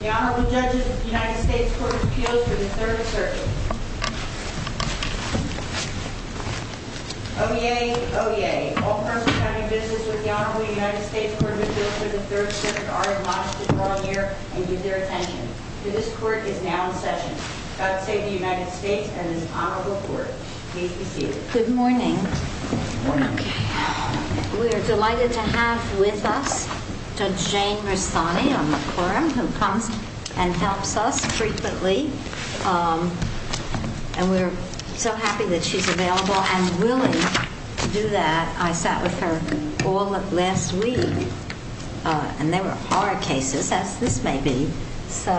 The Honorable Judges of the United States Court of Appeals for the 3rd Circuit are admonished to come here and give their attention. This court is now in session. God save the United States and this honorable court. Please be seated. Good morning. We're delighted to have with us to Jane Rastani on the quorum who comes and helps us frequently. And we're so happy that she's available and willing to do that. I sat with her all last week and there were hard cases as this may be. So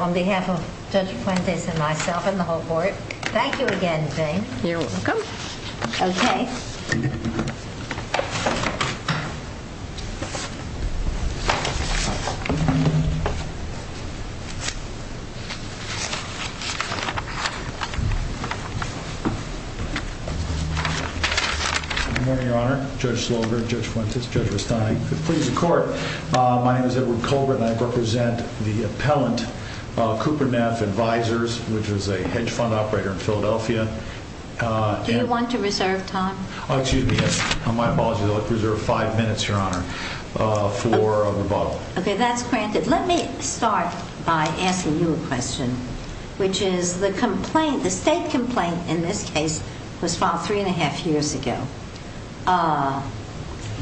on behalf of Judge Fuentes and myself and the whole court, thank you again, Jane. You're welcome. OK. Good morning, Your Honor. Judge Slogar, Judge Fuentes, Judge Rastani. Please be seated. My name is Edward Colbert and I represent the appellant Cooperneff Advisors, which is a hedge fund operator in Philadelphia. Do you want to reserve time? Oh, excuse me. My apologies. I'll reserve five minutes, Your Honor, for rebuttal. OK. That's granted. Let me start by asking you a question, which is the complaint, the state complaint in this case was filed three and a half years ago.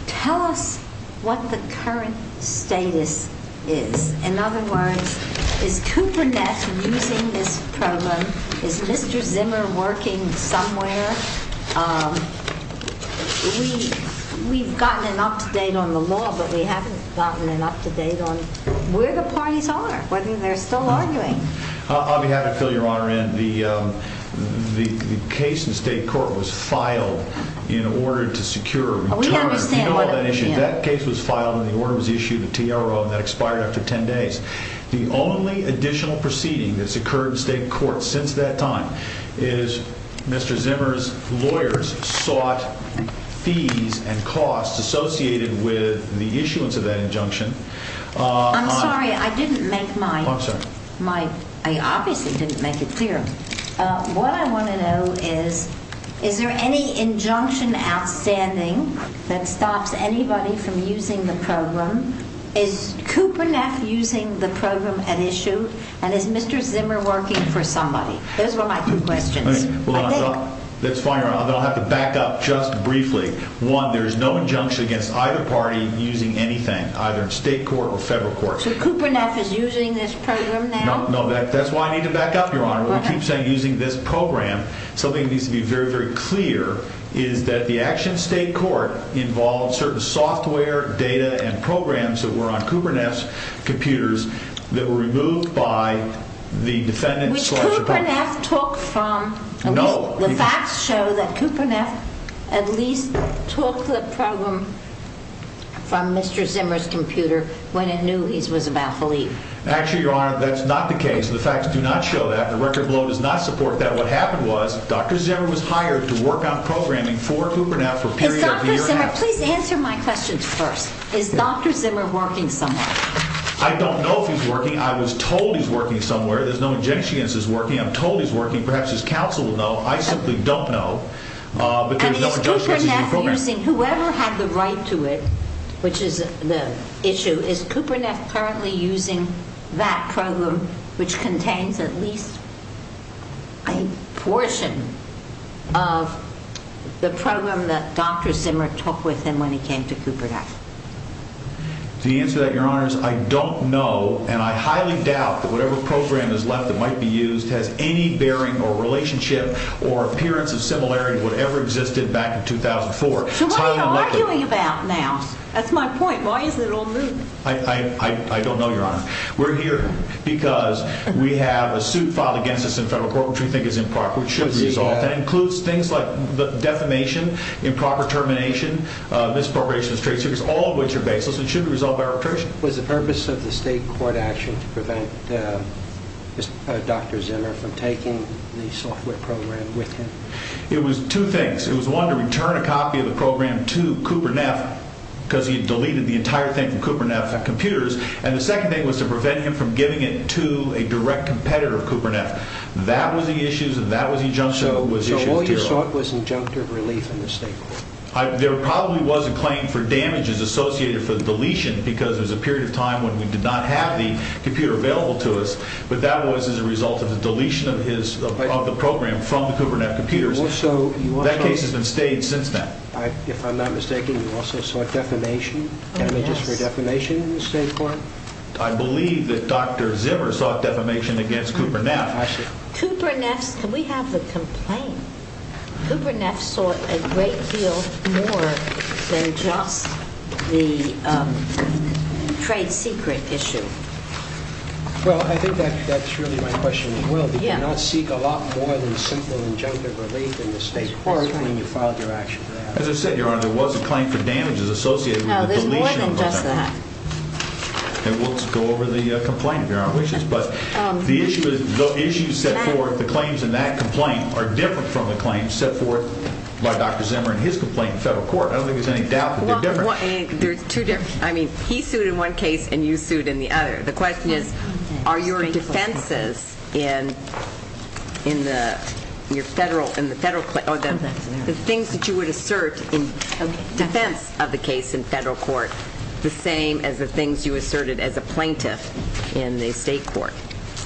Tell us what the current status is. In other words, is Cooperneff using this program? Is Mr. Zimmer working somewhere? We've gotten an up-to-date on the law, but we haven't gotten an up-to-date on where the parties are, whether they're still arguing. On behalf of Phil, Your Honor, the case in state court was filed in order to secure a return. We understand what it means. That case was filed and the order was issued, the TRO, and that expired after 10 days. The only additional proceeding that's occurred in state court since that time is Mr. Zimmer's lawyers sought fees and costs associated with the issuance of that injunction. I'm sorry. I didn't make my – I obviously didn't make it clear. What I want to know is, is there any injunction outstanding that stops anybody from using the program? Is Cooperneff using the program at issue, and is Mr. Zimmer working for somebody? Those were my two questions. Hold on. That's fine, Your Honor. I'll have to back up just briefly. One, there's no injunction against either party using anything, either in state court or federal court. So Cooperneff is using this program now? No, that's why I need to back up, Your Honor. We keep saying using this program. Something that needs to be very, very clear is that the action in state court involved certain software, data, and programs that were on Cooperneff's computers that were removed by the defendants. Which Cooperneff took from – No. The facts show that Cooperneff at least took the program from Mr. Zimmer's computer when it knew it was about Philippe. Actually, Your Honor, that's not the case. The facts do not show that. The record below does not support that. What happened was Dr. Zimmer was hired to work on programming for Cooperneff for a period of a year and a half. Dr. Zimmer, please answer my question first. Is Dr. Zimmer working somewhere? I don't know if he's working. I was told he's working somewhere. There's no injunction against his working. I'm told he's working. Perhaps his counsel will know. I simply don't know. And is Cooperneff using – whoever had the right to it, which is the issue – is Cooperneff currently using that program which contains at least a portion of the program that Dr. Zimmer took with him when he came to Cooperneff? The answer to that, Your Honor, is I don't know and I highly doubt that whatever program is left that might be used has any bearing or relationship or appearance of similarity to whatever existed back in 2004. So what are you arguing about now? That's my point. Why is it all moving? I don't know, Your Honor. We're here because we have a suit filed against us in federal court which we think is improper. It includes things like defamation, improper termination, misappropriation of trade secrets, all of which are baseless and should be resolved by arbitration. Was the purpose of the state court action to prevent Dr. Zimmer from taking the software program with him? It was two things. It was, one, to return a copy of the program to Cooperneff because he had deleted the entire thing from Cooperneff computers, and the second thing was to prevent him from giving it to a direct competitor of Cooperneff. That was the issue and that was the injunction. So all you sought was injunctive relief in the state court? There probably was a claim for damages associated for the deletion because there was a period of time when we did not have the computer available to us, but that was as a result of the deletion of the program from the Cooperneff computers. That case has been staged since then. If I'm not mistaken, you also sought damages for defamation in the state court? I believe that Dr. Zimmer sought defamation against Cooperneff. Cooperneff, can we have the complaint? Cooperneff sought a great deal more than just the trade secret issue. Well, I think that's really my question as well. Did you not seek a lot more than simple injunctive relief in the state court when you filed your action for that? As I said, Your Honor, there was a claim for damages associated with the deletion of the program. Let's go over the complaint, if Your Honor wishes. The claims in that complaint are different from the claims set forth by Dr. Zimmer in his complaint in federal court. I don't think there's any doubt that they're different. He sued in one case and you sued in the other. The question is, are your defenses in the things that you would assert in defense of the case in federal court the same as the things you asserted as a plaintiff in the state court?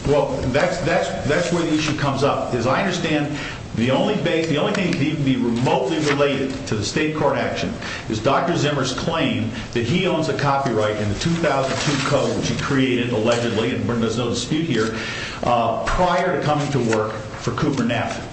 That's where the issue comes up. As I understand, the only thing that can be remotely related to the state court action is Dr. Zimmer's claim that he owns a copyright in the 2002 code which he created, allegedly, and there's no dispute here, prior to coming to work for Cooperneff.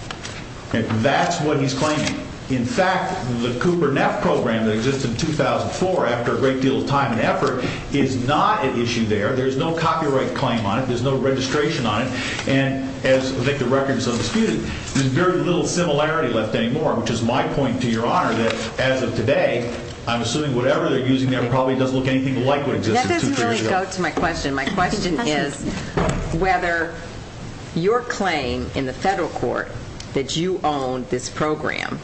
That's what he's claiming. In fact, the Cooperneff program that existed in 2004, after a great deal of time and effort, is not an issue there. There's no copyright claim on it. There's no registration on it. I think the record is undisputed. There's very little similarity left anymore, which is my point to Your Honor that, as of today, I'm assuming whatever they're using there probably doesn't look anything like what existed two years ago. That doesn't really go to my question. My question is whether your claim in the federal court that you own this program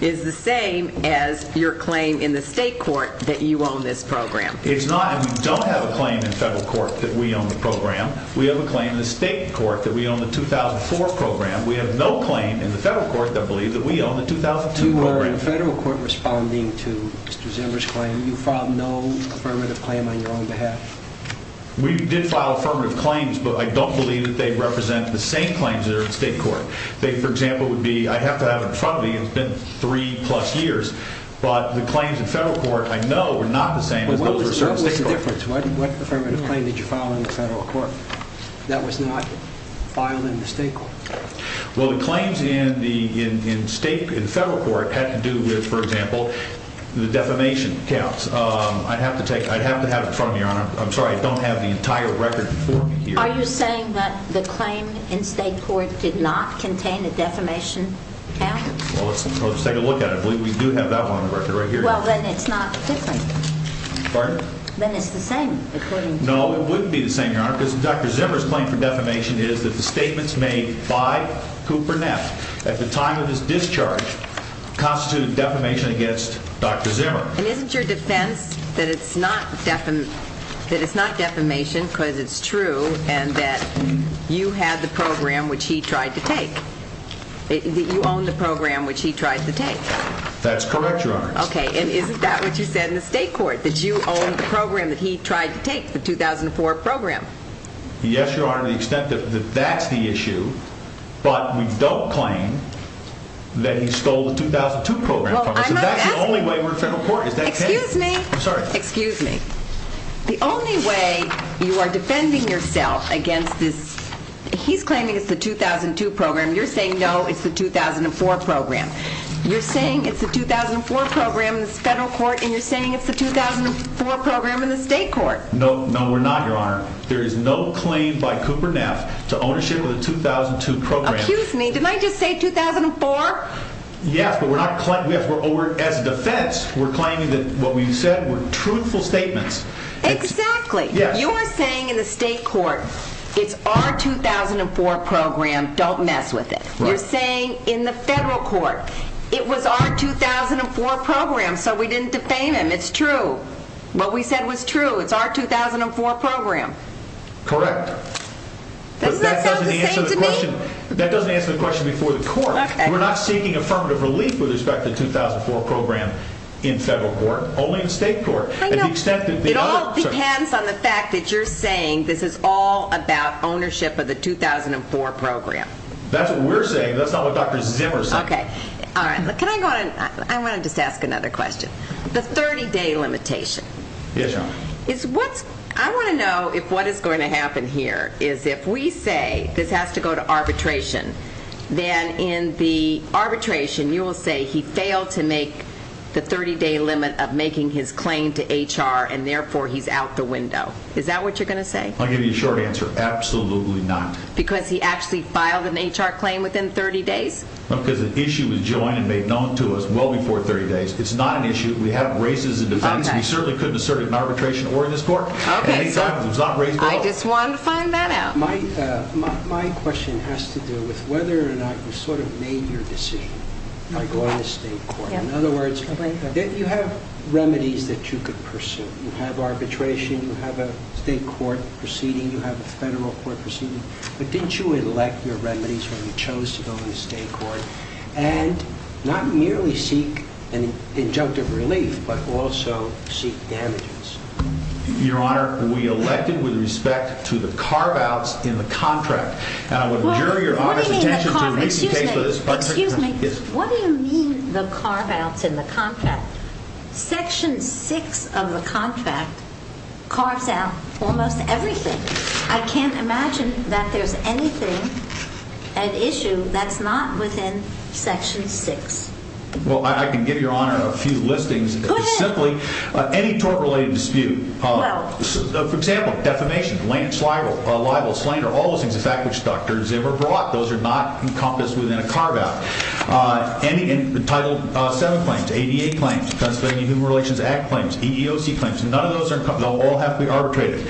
is the same as your claim in the state court that you own this program. It's not, and we don't have a claim in the federal court that we own the program. We have a claim in the state court that we own the 2004 program. We have no claim in the federal court, I believe, that we own the 2002 program. You were in the federal court responding to Mr. Zimmer's claim. You filed no affirmative claim on your own behalf. We did file affirmative claims, but I don't believe that they represent the same claims that are in state court. They, for example, would be, I'd have to have it in front of me. It's been three plus years, but the claims in federal court I know are not the same as those that are in state court. What was the difference? What affirmative claim did you file in the federal court that was not filed in the state court? Well, the claims in the state and federal court had to do with, for example, the defamation counts. I'd have to have it in front of me, Your Honor. I'm sorry, I don't have the entire record before me here. Are you saying that the claim in state court did not contain a defamation count? Well, let's take a look at it. We do have that one on the record right here. Well, then it's not different. Pardon? Then it's the same, according to you. No, it wouldn't be the same, Your Honor, because Dr. Zimmer's claim for defamation is that the statements made by Cooper Neff at the time of his discharge constituted defamation against Dr. Zimmer. And isn't your defense that it's not defamation because it's true and that you had the program which he tried to take? That you owned the program which he tried to take? That's correct, Your Honor. Okay, and isn't that what you said in the state court, that you owned the program that he tried to take, the 2004 program? Yes, Your Honor, to the extent that that's the issue, but we don't claim that he stole the 2002 program from us. That's the only way we're in federal court. Excuse me. I'm sorry. Excuse me. The only way you are defending yourself against this, he's claiming it's the 2002 program. You're saying, no, it's the 2004 program. You're saying it's the 2004 program in the federal court, and you're saying it's the 2004 program in the state court. No, no, we're not, Your Honor. There is no claim by Cooper Neff to ownership of the 2002 program. Excuse me, didn't I just say 2004? Yes, but as a defense, we're claiming that what we said were truthful statements. Exactly. Yes. You are saying in the state court, it's our 2004 program, don't mess with it. Right. You're saying in the federal court, it was our 2004 program, so we didn't defame him. It's true. What we said was true. It's our 2004 program. Correct. Doesn't that sound the same to me? That doesn't answer the question before the court. We're not seeking affirmative relief with respect to the 2004 program in federal court, only in state court. It all depends on the fact that you're saying this is all about ownership of the 2004 program. That's what we're saying. That's not what Dr. Zimmer said. Okay. Can I go on? I want to just ask another question. The 30-day limitation. Yes, Your Honor. I want to know if what is going to happen here is if we say this has to go to arbitration, then in the arbitration, you will say he failed to make the 30-day limit of making his claim to HR, and therefore, he's out the window. Is that what you're going to say? I'll give you a short answer. Absolutely not. Because he actually filed an HR claim within 30 days? Because the issue was joined and made known to us well before 30 days. It's not an issue. We have races in defense. We certainly couldn't assert it in arbitration or in this court. Okay. I just wanted to find that out. My question has to do with whether or not you sort of made your decision by going to state court. In other words, you have remedies that you could pursue. You have arbitration. You have a state court proceeding. You have a federal court proceeding. But didn't you elect your remedies when you chose to go into state court and not merely seek an injunctive relief but also seek damages? Your Honor, we elected with respect to the carve-outs in the contract. What do you mean the carve-outs? Excuse me. What do you mean the carve-outs in the contract? Section 6 of the contract carves out almost everything. I can't imagine that there's anything at issue that's not within Section 6. Well, I can give Your Honor a few listings. Go ahead. It's simply any tort-related dispute. Well. For example, defamation, lance, libel, slander, all those things, the fact which Dr. Zimmer brought. Those are not encompassed within a carve-out. Title VII claims, ADA claims, Pennsylvania Human Relations Act claims, EEOC claims. None of those are encompassed. They'll all have to be arbitrated.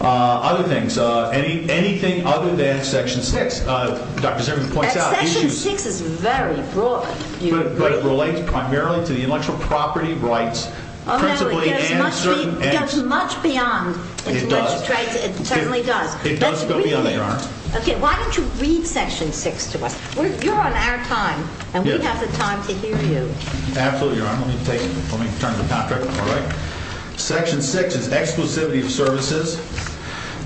Other things. Anything other than Section 6, Dr. Zimmer points out. Section 6 is very broad. But it relates primarily to the intellectual property rights principally. No, it goes much beyond intellectual rights. It does. It certainly does. It does go beyond that, Your Honor. Okay. Why don't you read Section 6 to us? You're on our time, and we have the time to hear you. Absolutely, Your Honor. Let me turn to Patrick. All right. Section 6 is exclusivity of services,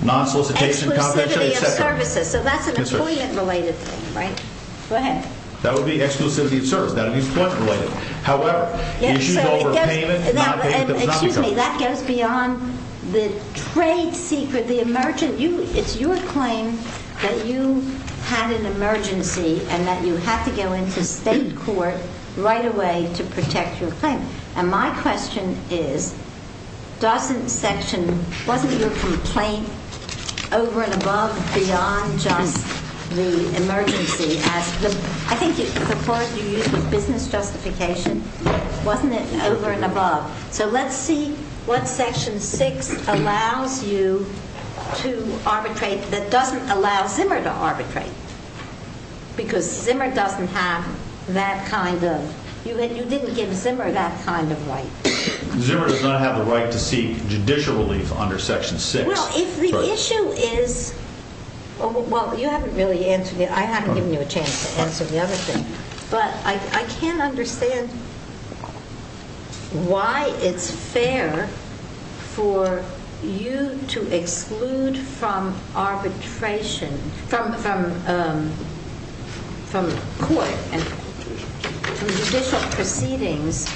non-solicitation of confidentiality, etc. Exclusivity of services. So that's an employment-related thing, right? Go ahead. That would be exclusivity of services. That would be employment-related. However, issues over payment, non-payment of non-discounts. Excuse me. That goes beyond the trade secret, the emergency. It's your claim that you had an emergency and that you had to go into state court right away to protect your claim. And my question is, wasn't your complaint over and above beyond just the emergency? I think the word you used was business justification. Wasn't it over and above? So let's see what Section 6 allows you to arbitrate that doesn't allow Zimmer to arbitrate. Because Zimmer doesn't have that kind of – you didn't give Zimmer that kind of right. Zimmer does not have the right to seek judicial relief under Section 6. Well, if the issue is – well, you haven't really answered it. I haven't given you a chance to answer the other thing. But I can't understand why it's fair for you to exclude from arbitration – from court and judicial proceedings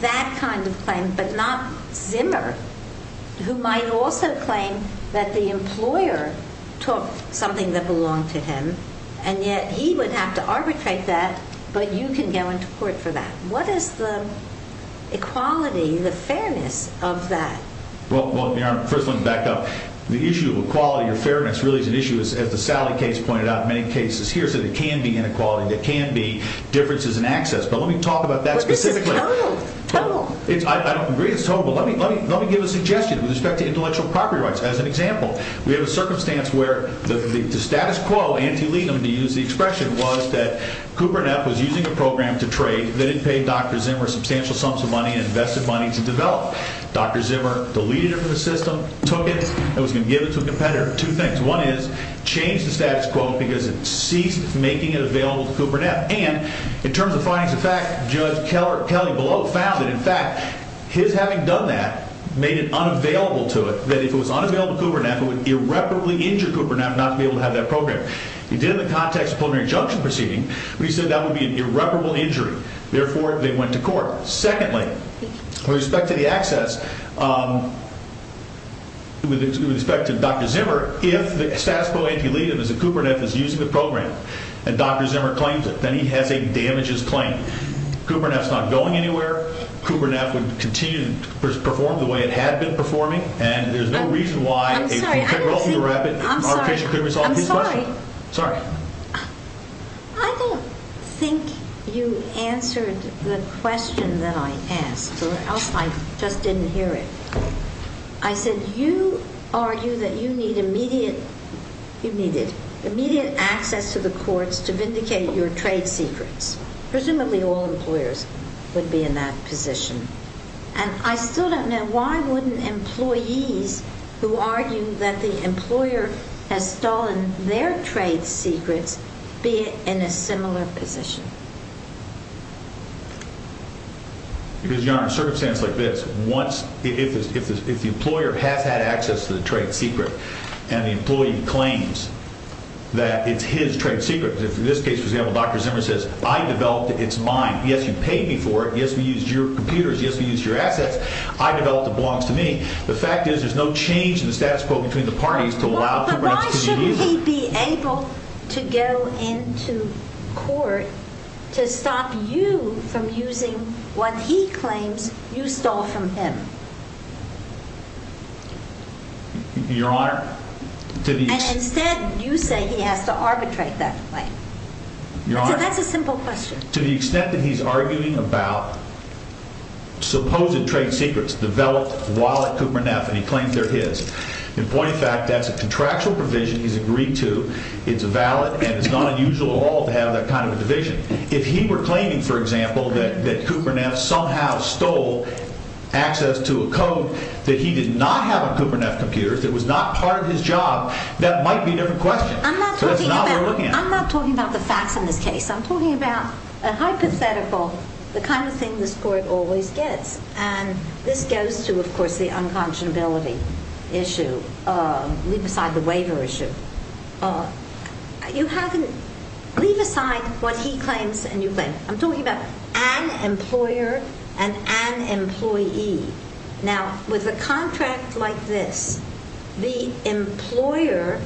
that kind of claim but not Zimmer, who might also claim that the employer took something that belonged to him, and yet he would have to arbitrate that, but you can go into court for that. What is the equality, the fairness of that? Well, Your Honor, first let me back up. The issue of equality or fairness really is an issue, as the Sally case pointed out in many cases here, is that it can be inequality. There can be differences in access. But let me talk about that specifically. But this is total. Total. I don't agree. It's total. But let me give a suggestion with respect to intellectual property rights. As an example, we have a circumstance where the status quo, anti-legum, to use the expression, was that Cooper and F was using a program to trade that had paid Dr. Zimmer substantial sums of money and invested money to develop. Dr. Zimmer deleted it from the system, took it, and was going to give it to a competitor. Two things. One is, changed the status quo because it ceased making it available to Cooper and F. And, in terms of findings of fact, Judge Kelley below found that, in fact, his having done that made it unavailable to it, that if it was unavailable to Cooper and F, it would irreparably injure Cooper and F not to be able to have that program. He did it in the context of a preliminary injunction proceeding. But he said that would be an irreparable injury. Therefore, they went to court. Secondly, with respect to the access, with respect to Dr. Zimmer, if the status quo, anti-legum, is that Cooper and F is using the program and Dr. Zimmer claims it, then he has a damages claim. Cooper and F's not going anywhere. Cooper and F would continue to perform the way it had been performing. And there's no reason why a control through the rabbit arbitration could resolve his question. I'm sorry. Sorry. I don't think you answered the question that I asked, or else I just didn't hear it. I said you argue that you need immediate access to the courts to vindicate your trade secrets. Presumably all employers would be in that position. And I still don't know why wouldn't employees who argue that the employer has stolen their trade secrets be in a similar position? Because, Your Honor, in circumstances like this, if the employer has had access to the trade secret and the employee claims that it's his trade secret, in this case, for example, Dr. Zimmer says, I developed it. It's mine. Yes, you paid me for it. Yes, we used your computers. Yes, we used your assets. I developed it. It belongs to me. The fact is there's no change in the status quo between the parties to allow Cooper and F to continue using it. Would he be able to go into court to stop you from using what he claims you stole from him? Your Honor, to the extent... And instead you say he has to arbitrate that claim. Your Honor... So that's a simple question. To the extent that he's arguing about supposed trade secrets developed while at Cooper and F and he claims they're his. In point of fact, that's a contractual provision he's agreed to. It's valid and it's not unusual at all to have that kind of a division. If he were claiming, for example, that Cooper and F somehow stole access to a code that he did not have at Cooper and F computers, that was not part of his job, that might be a different question. I'm not talking about the facts in this case. I'm talking about a hypothetical, the kind of thing this Court always gets. And this goes to, of course, the unconscionability issue. Leave aside the waiver issue. You haven't... Leave aside what he claims and you claim. Now, with a contract like this, the employer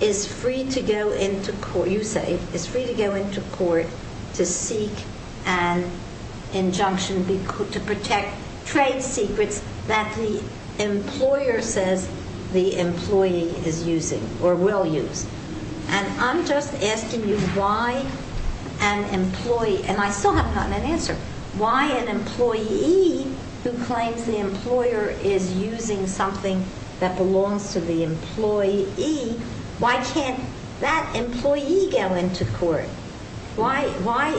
is free to go into court, you say, is free to go into court to seek an injunction to protect trade secrets that the employer says the employee is using or will use. And I'm just asking you why an employee... And I still haven't gotten an answer. Why an employee who claims the employer is using something that belongs to the employee... Why can't that employee go into court? Why... Why...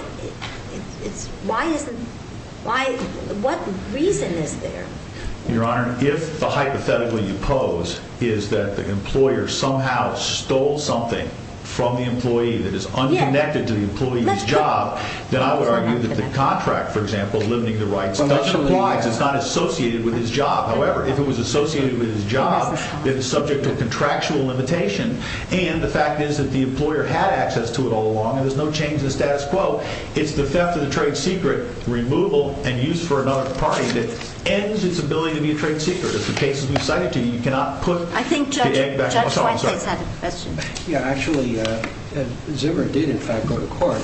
It's... Why isn't... Why... What reason is there? Your Honor, if the hypothetical you pose is that the employer somehow stole something from the employee that is unconnected to the employee's job, then I would argue that the contract, for example, limiting the rights of the supplier is not associated with his job. However, if it was associated with his job, it's subject to contractual limitation. And the fact is that the employer had access to it all along and there's no change in the status quo. It's the theft of the trade secret, removal, and use for another party that ends its ability to be a trade secret. It's the cases we've cited to you. You cannot put... I think Judge... I'm sorry. Judge Weinstein's had a question. Yeah, actually, Zimmer did, in fact, go to court.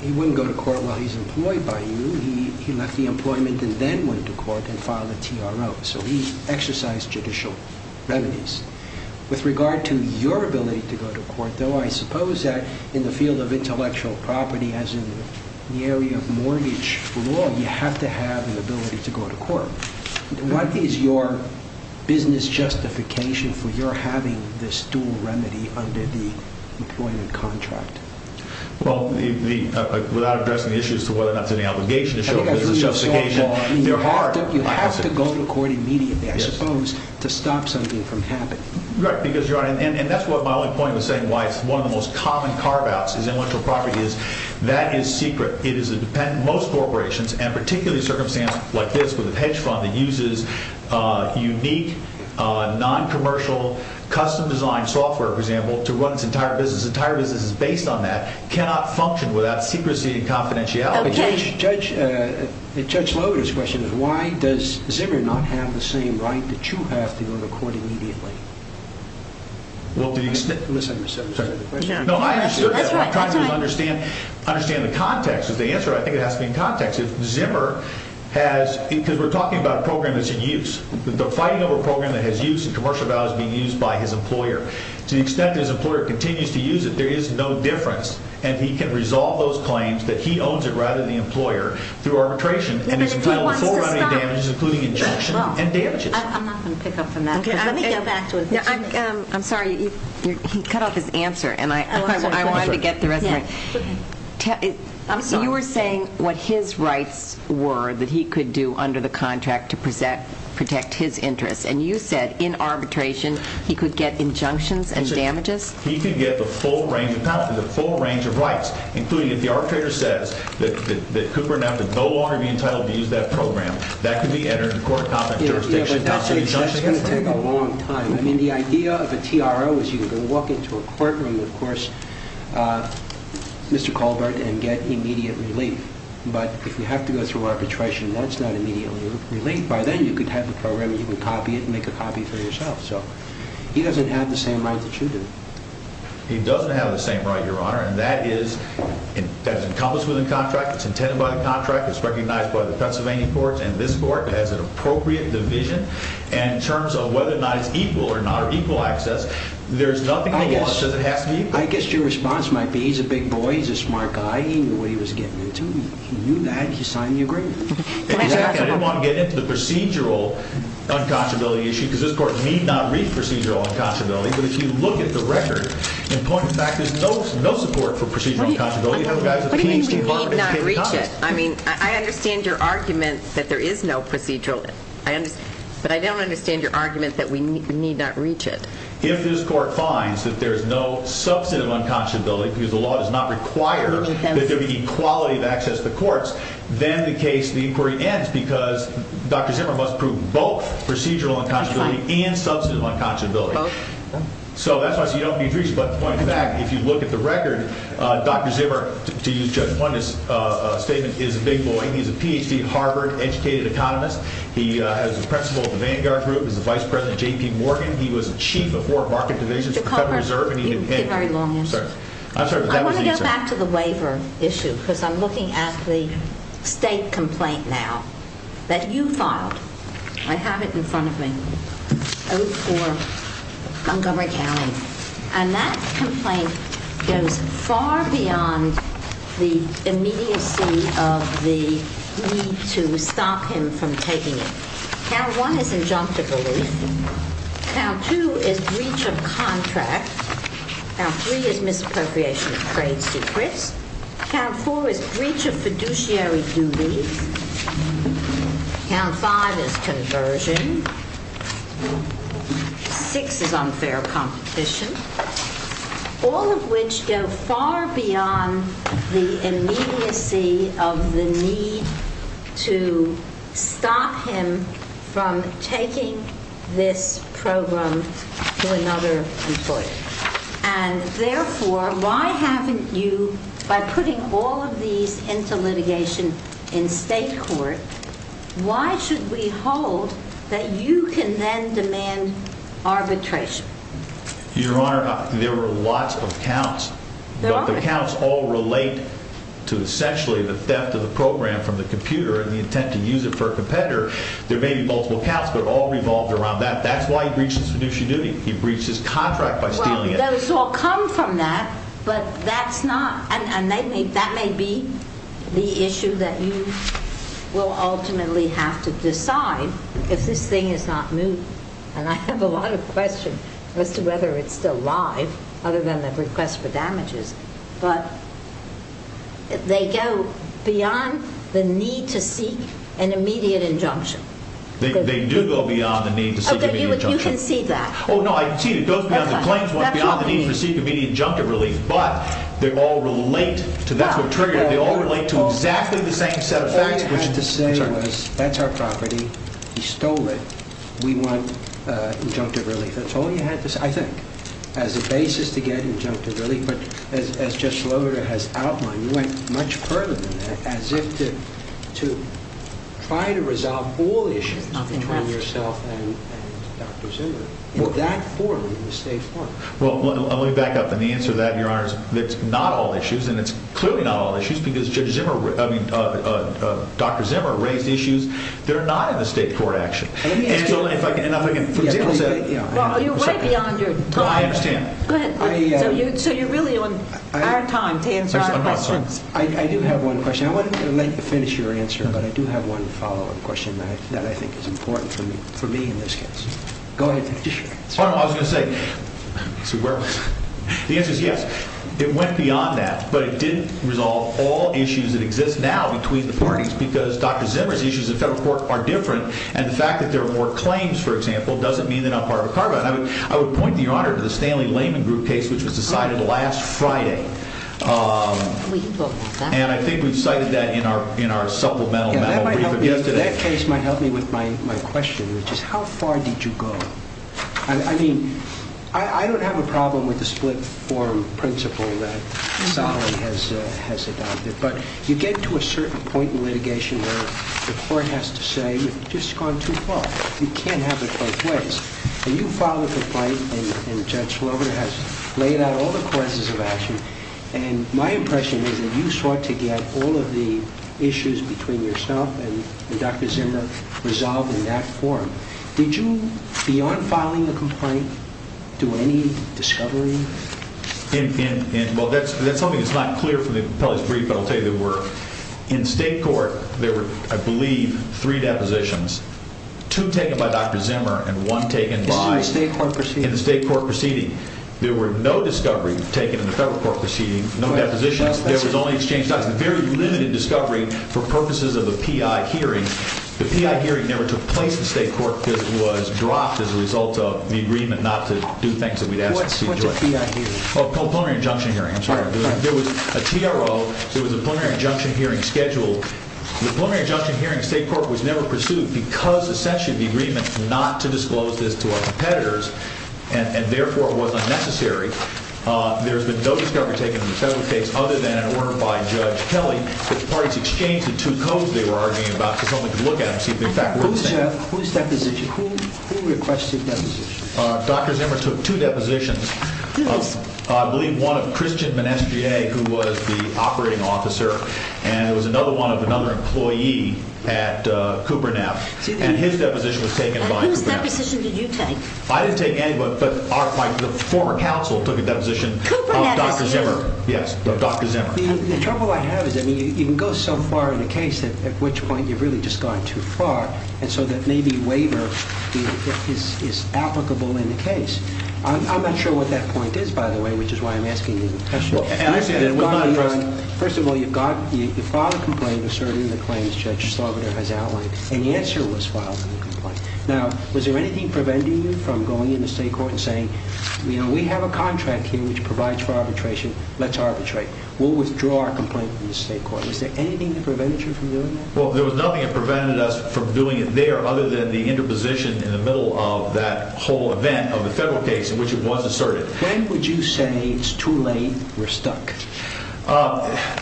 He wouldn't go to court while he's employed by you. He left the employment and then went to court and filed a TRO. So he exercised judicial remedies. With regard to your ability to go to court, though, I suppose that in the field of intellectual property, as in the area of mortgage law, you have to have an ability to go to court. What is your business justification for your having this dual remedy under the employment contract? Well, without addressing the issues to whether or not it's an obligation to show business justification, there are... Right, because, Your Honor, and that's what my only point was saying, why it's one of the most common carve-outs is intellectual property is that is secret. It is a dependent. Most corporations, and particularly circumstances like this with a hedge fund that uses unique, noncommercial, custom-designed software, for example, to run its entire business, the entire business is based on that, cannot function without secrecy and confidentiality. Okay. Judge Lohgann's question is, why does Zimmer not have the same right that you have to go to court immediately? Well, the extent... Listen. No, I understood that. That's right. I'm trying to understand the context of the answer. I think it has to be in context. If Zimmer has... Because we're talking about a program that's in use. The fighting over a program that has use and commercial value is being used by his employer. To the extent that his employer continues to use it, there is no difference, and he can resolve those claims that he owns it, rather than the employer, through arbitration. But if he wants to stop... And it's entailed with fore-rounding damages, including injunction and damages. I'm not going to pick up on that. Let me get back to it. I'm sorry. He cut off his answer, and I wanted to get the rest of it. I'm sorry. You were saying what his rights were that he could do under the contract to protect his interests. And you said, in arbitration, he could get injunctions and damages? He could get the full range of counsel, the full range of rights, including if the arbitrator says that Cooper and F would no longer be entitled to use that program. That could be entered into court, not the jurisdiction. But that's going to take a long time. I mean, the idea of a TRO is you can go walk into a courtroom, of course, Mr. Colbert, and get immediate relief. But if you have to go through arbitration, that's not immediate relief. By then, you could have the program and you could copy it and make a copy for yourself. So he doesn't have the same right that you do. He doesn't have the same right, Your Honor. And that is encompassed within the contract. It's intended by the contract. It's recognized by the Pennsylvania courts and this court as an appropriate division. And in terms of whether or not it's equal or not, or equal access, there's nothing in the law that says it has to be equal. I guess your response might be, he's a big boy. He's a smart guy. He knew what he was getting into. He knew that. He signed the agreement. Exactly. I didn't want to get into the procedural unconscionability issue because this court need not read procedural unconscionability. But if you look at the record, in point of fact, there's no support for procedural unconscionability. What do you mean we need not reach it? I mean, I understand your argument that there is no procedural. But I don't understand your argument that we need not reach it. If this court finds that there is no substantive unconscionability, because the law does not require that there be equality of access to the courts, then the case, the inquiry ends because Dr. Zimmer must prove both procedural unconscionability and substantive unconscionability. So that's why I say you don't need to reach it. But in point of fact, if you look at the record, Dr. Zimmer, to use Judge Fuentes' statement, is a big boy. He's a Ph.D., Harvard-educated economist. He is the principal of the Vanguard Group. He's the vice president of J.P. Morgan. He was chief of four market divisions for Federal Reserve. You give very long answers. I'm sorry. I want to go back to the waiver issue because I'm looking at the state complaint now that you filed. I have it in front of me. Oath for Montgomery County. And that complaint goes far beyond the immediacy of the need to stop him from taking it. Count one is injunctive relief. Count two is breach of contract. Count three is misappropriation of trade secrets. Count four is breach of fiduciary duties. Count five is conversion. Six is unfair competition. All of which go far beyond the immediacy of the need to stop him from taking this program to another employer. And therefore, why haven't you, by putting all of these into litigation in state court, why should we hold that you can then demand arbitration? Your Honor, there were lots of counts. But the counts all relate to essentially the theft of the program from the computer and the intent to use it for a competitor. There may be multiple counts, but it all revolved around that. That's why he breached his fiduciary duty. He breached his contract by stealing it. Well, those all come from that. But that's not – and that may be the issue that you will ultimately have to decide if this thing is not moved. And I have a lot of questions as to whether it's still alive, other than the request for damages. But they go beyond the need to seek an immediate injunction. They do go beyond the need to seek an immediate injunction. You can see that. Oh, no, I can see it. It goes beyond the claims, beyond the need to seek an immediate injunctive relief. But they all relate to – that's what triggered it. They all relate to exactly the same set of facts. All he had to say was, that's our property. He stole it. We want injunctive relief. That's all he had to say, I think, as a basis to get injunctive relief. But as Judge Slover has outlined, you went much further than that, as if to try to resolve all issues between yourself and Dr. Zimmer in that form, in the state court. Well, let me back up. And the answer to that, Your Honor, is it's not all issues. And it's clearly not all issues because Judge Zimmer – I mean, Dr. Zimmer raised issues that are not in the state court action. And if I can – for example – Well, you're way beyond your time. I understand. Go ahead. So you're really on our time to answer our questions. I do have one question. I want to let you finish your answer, but I do have one follow-up question that I think is important for me in this case. Go ahead. Oh, no, I was going to say – the answer is yes. It went beyond that, but it didn't resolve all issues that exist now between the parties because Dr. Zimmer's issues in federal court are different. And the fact that there are more claims, for example, doesn't mean that I'm part of a carve-out. And I would point, Your Honor, to the Stanley Layman group case, which was decided last Friday. Well, you talked about that. And I think we've cited that in our supplemental memo brief of yesterday. That case might help me with my question, which is how far did you go? I mean, I don't have a problem with the split form principle that Sally has adopted, but you get to a certain point in litigation where the court has to say, you've just gone too far. You can't have it both ways. And you filed a complaint, and Judge Slover has laid out all the causes of action. And my impression is that you sought to get all of the issues between yourself and Dr. Zimmer resolved in that form. Did you, beyond filing a complaint, do any discovery? Well, that's something that's not clear from the appellee's brief, but I'll tell you there were. In state court, there were, I believe, three depositions, two taken by Dr. Zimmer and one taken by— In the state court proceeding. In the state court proceeding. There were no discoveries taken in the federal court proceeding, no depositions. There was only exchange documents. There was very limited discovery for purposes of a PI hearing. The PI hearing never took place in state court because it was dropped as a result of the agreement not to do things that we'd asked the people to do. What's a PI hearing? Oh, a preliminary injunction hearing. I'm sorry. There was a TRO. There was a preliminary injunction hearing scheduled. The preliminary injunction hearing in state court was never pursued because, essentially, of the agreement not to disclose this to our competitors. And, therefore, it was unnecessary. There has been no discovery taken in the federal case other than an order by Judge Kelly. The parties exchanged the two codes they were arguing about because only to look at them to see if they, in fact, were the same. Whose deposition? Who requested deposition? Dr. Zimmer took two depositions. Whose? I believe one of Christian Monestier, who was the operating officer, and it was another one of another employee at Cooper and F. And his deposition was taken by Cooper and F. And whose deposition did you take? I didn't take anybody, but the former counsel took a deposition of Dr. Zimmer. Cooper and F. Yes, of Dr. Zimmer. The trouble I have is, I mean, you can go so far in a case at which point you've really just gone too far, and so that maybe waiver is applicable in the case. I'm not sure what that point is, by the way, which is why I'm asking you the question. First of all, you filed a complaint asserting the claims Judge Sloboda has outlined, and the answer was filed in the complaint. Now, was there anything preventing you from going in the state court and saying, you know, we have a contract here which provides for arbitration. Let's arbitrate. We'll withdraw our complaint from the state court. Was there anything that prevented you from doing that? Well, there was nothing that prevented us from doing it there other than the interposition in the middle of that whole event of the federal case in which it was asserted. When would you say it's too late, we're stuck?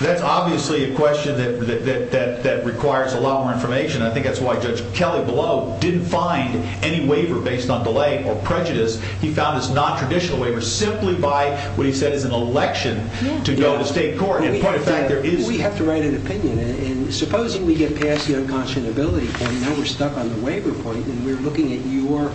That's obviously a question that requires a lot more information. I think that's why Judge Kelly below didn't find any waiver based on delay or prejudice. He found this nontraditional waiver simply by what he said is an election to go to state court. We have to write an opinion, and supposing we get past the unconscionability point and now we're stuck on the waiver point and we're looking at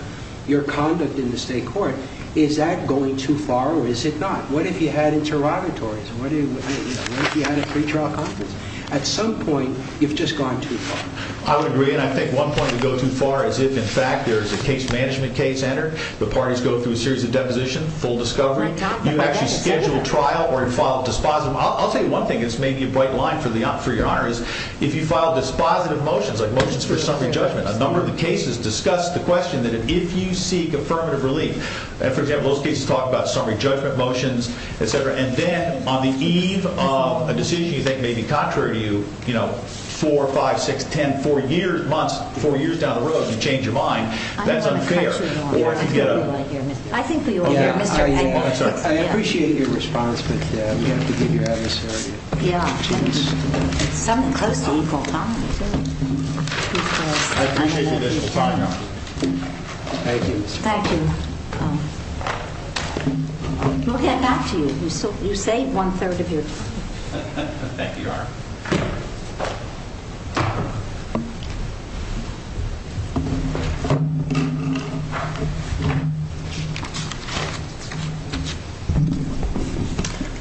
your conduct in the state court. Is that going too far or is it not? What if you had interrogatories? What if you had a pretrial conference? At some point, you've just gone too far. I would agree, and I think one point to go too far is if, in fact, there is a case management case entered, the parties go through a series of depositions, full discovery. You actually schedule a trial or you file a dispositive. I'll tell you one thing that's maybe a bright line for your honor is if you file dispositive motions like motions for summary judgment, a number of the cases discuss the question that if you seek affirmative relief. For example, those cases talk about summary judgment motions, et cetera, and then on the eve of a decision you think may be contrary to you, four, five, six, ten, four years, months, four years down the road, you change your mind. That's unfair. I think we all hear. I appreciate your response, but we have to give your adversary a chance. It's something close to equal time. I appreciate your additional time, Your Honor. Thank you. Thank you. We'll get back to you. You saved one-third of your time. Thank you, Your Honor.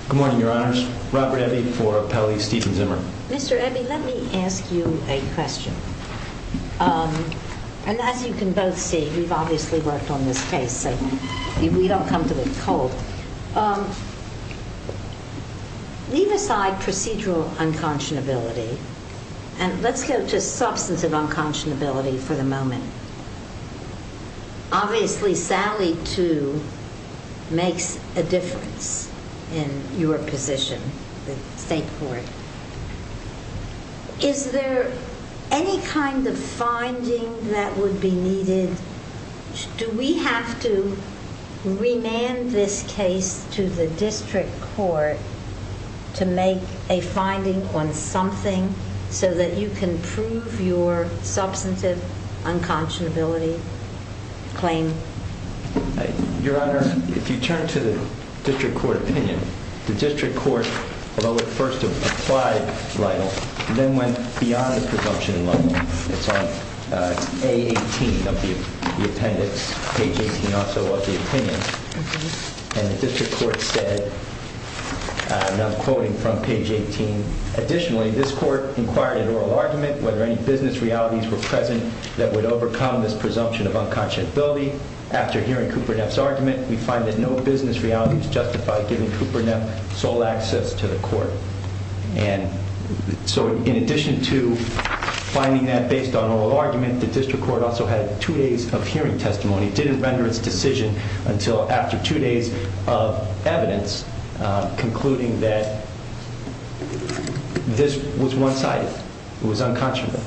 Good morning, Your Honors. Robert Ebby for Appellee Stephen Zimmer. Mr. Ebby, let me ask you a question. And as you can both see, we've obviously worked on this case, so we don't come to it cold. Leave aside procedural unconscionability, and let's go to substantive unconscionability for the moment. Obviously, Sally, too, makes a difference in your position with the state court. Is there any kind of finding that would be needed? Do we have to remand this case to the district court to make a finding on something so that you can prove your substantive unconscionability claim? Your Honor, if you turn to the district court opinion, the district court, although it first applied Lytle, then went beyond the presumption level. It's on page 18 of the appendix, page 18 also of the opinion. And the district court said, and I'm quoting from page 18, Additionally, this court inquired at oral argument whether any business realities were present that would overcome this presumption of unconscionability. After hearing Cooper Neff's argument, we find that no business realities justify giving Cooper Neff sole access to the court. And so in addition to finding that based on oral argument, the district court also had two days of hearing testimony. It didn't render its decision until after two days of evidence concluding that this was one-sided. It was unconscionable.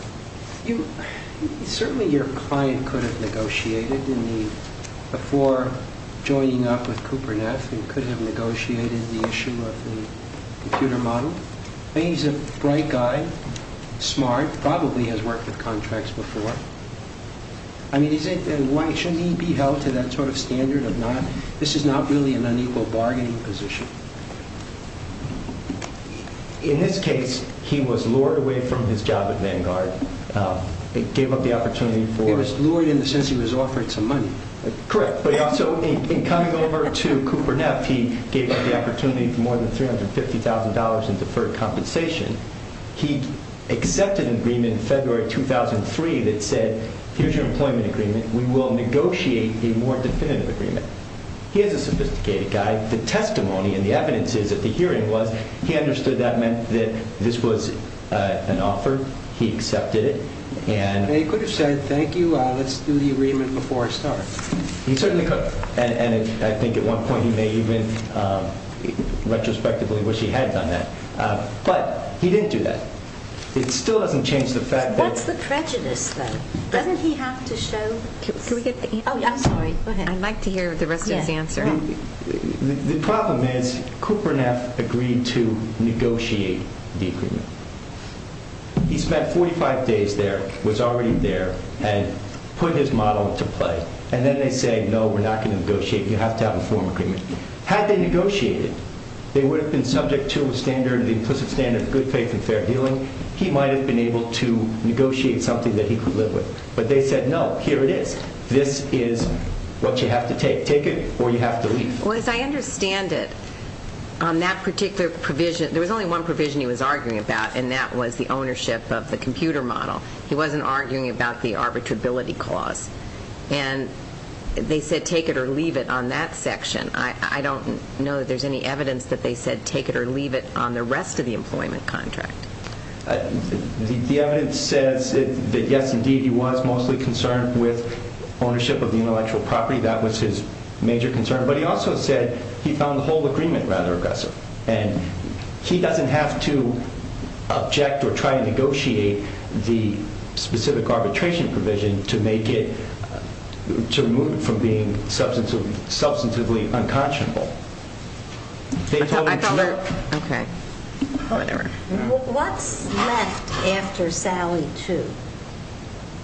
Certainly your client could have negotiated before joining up with Cooper Neff. He could have negotiated the issue of the computer model. He's a bright guy, smart, probably has worked with contracts before. I mean, why shouldn't he be held to that sort of standard of not, this is not really an unequal bargaining position. In this case, he was lured away from his job at Vanguard. It gave up the opportunity for... It was lured in the sense he was offered some money. Correct, but also in coming over to Cooper Neff, he gave up the opportunity for more than $350,000 in deferred compensation. He accepted an agreement in February 2003 that said, here's your employment agreement. We will negotiate a more definitive agreement. He is a sophisticated guy. The testimony and the evidence is that the hearing was, he understood that meant that this was an offer. He accepted it and... He could have said, thank you, let's do the agreement before I start. He certainly could. And I think at one point he may even retrospectively wish he had done that. But he didn't do that. It still hasn't changed the fact that... What's the prejudice though? Doesn't he have to show... Can we get the answer? Oh, I'm sorry. I'd like to hear the rest of his answer. The problem is, Cooper Neff agreed to negotiate the agreement. He spent 45 days there, was already there, and put his model into play. And then they say, no, we're not going to negotiate. You have to have a formal agreement. Had they negotiated, they would have been subject to a standard, the implicit standard of good faith and fair dealing. He might have been able to negotiate something that he could live with. But they said, no, here it is. This is what you have to take. Take it or you have to leave. Well, as I understand it, on that particular provision, there was only one provision he was arguing about, and that was the ownership of the computer model. He wasn't arguing about the arbitrability clause. And they said take it or leave it on that section. I don't know that there's any evidence that they said take it or leave it on the rest of the employment contract. The evidence says that, yes, indeed, he was mostly concerned with ownership of the intellectual property. That was his major concern. But he also said he found the whole agreement rather aggressive. And he doesn't have to object or try and negotiate the specific arbitration provision to make it, to remove it from being substantively unconscionable. They told him to leave. Okay. Whatever. What's left after Sally 2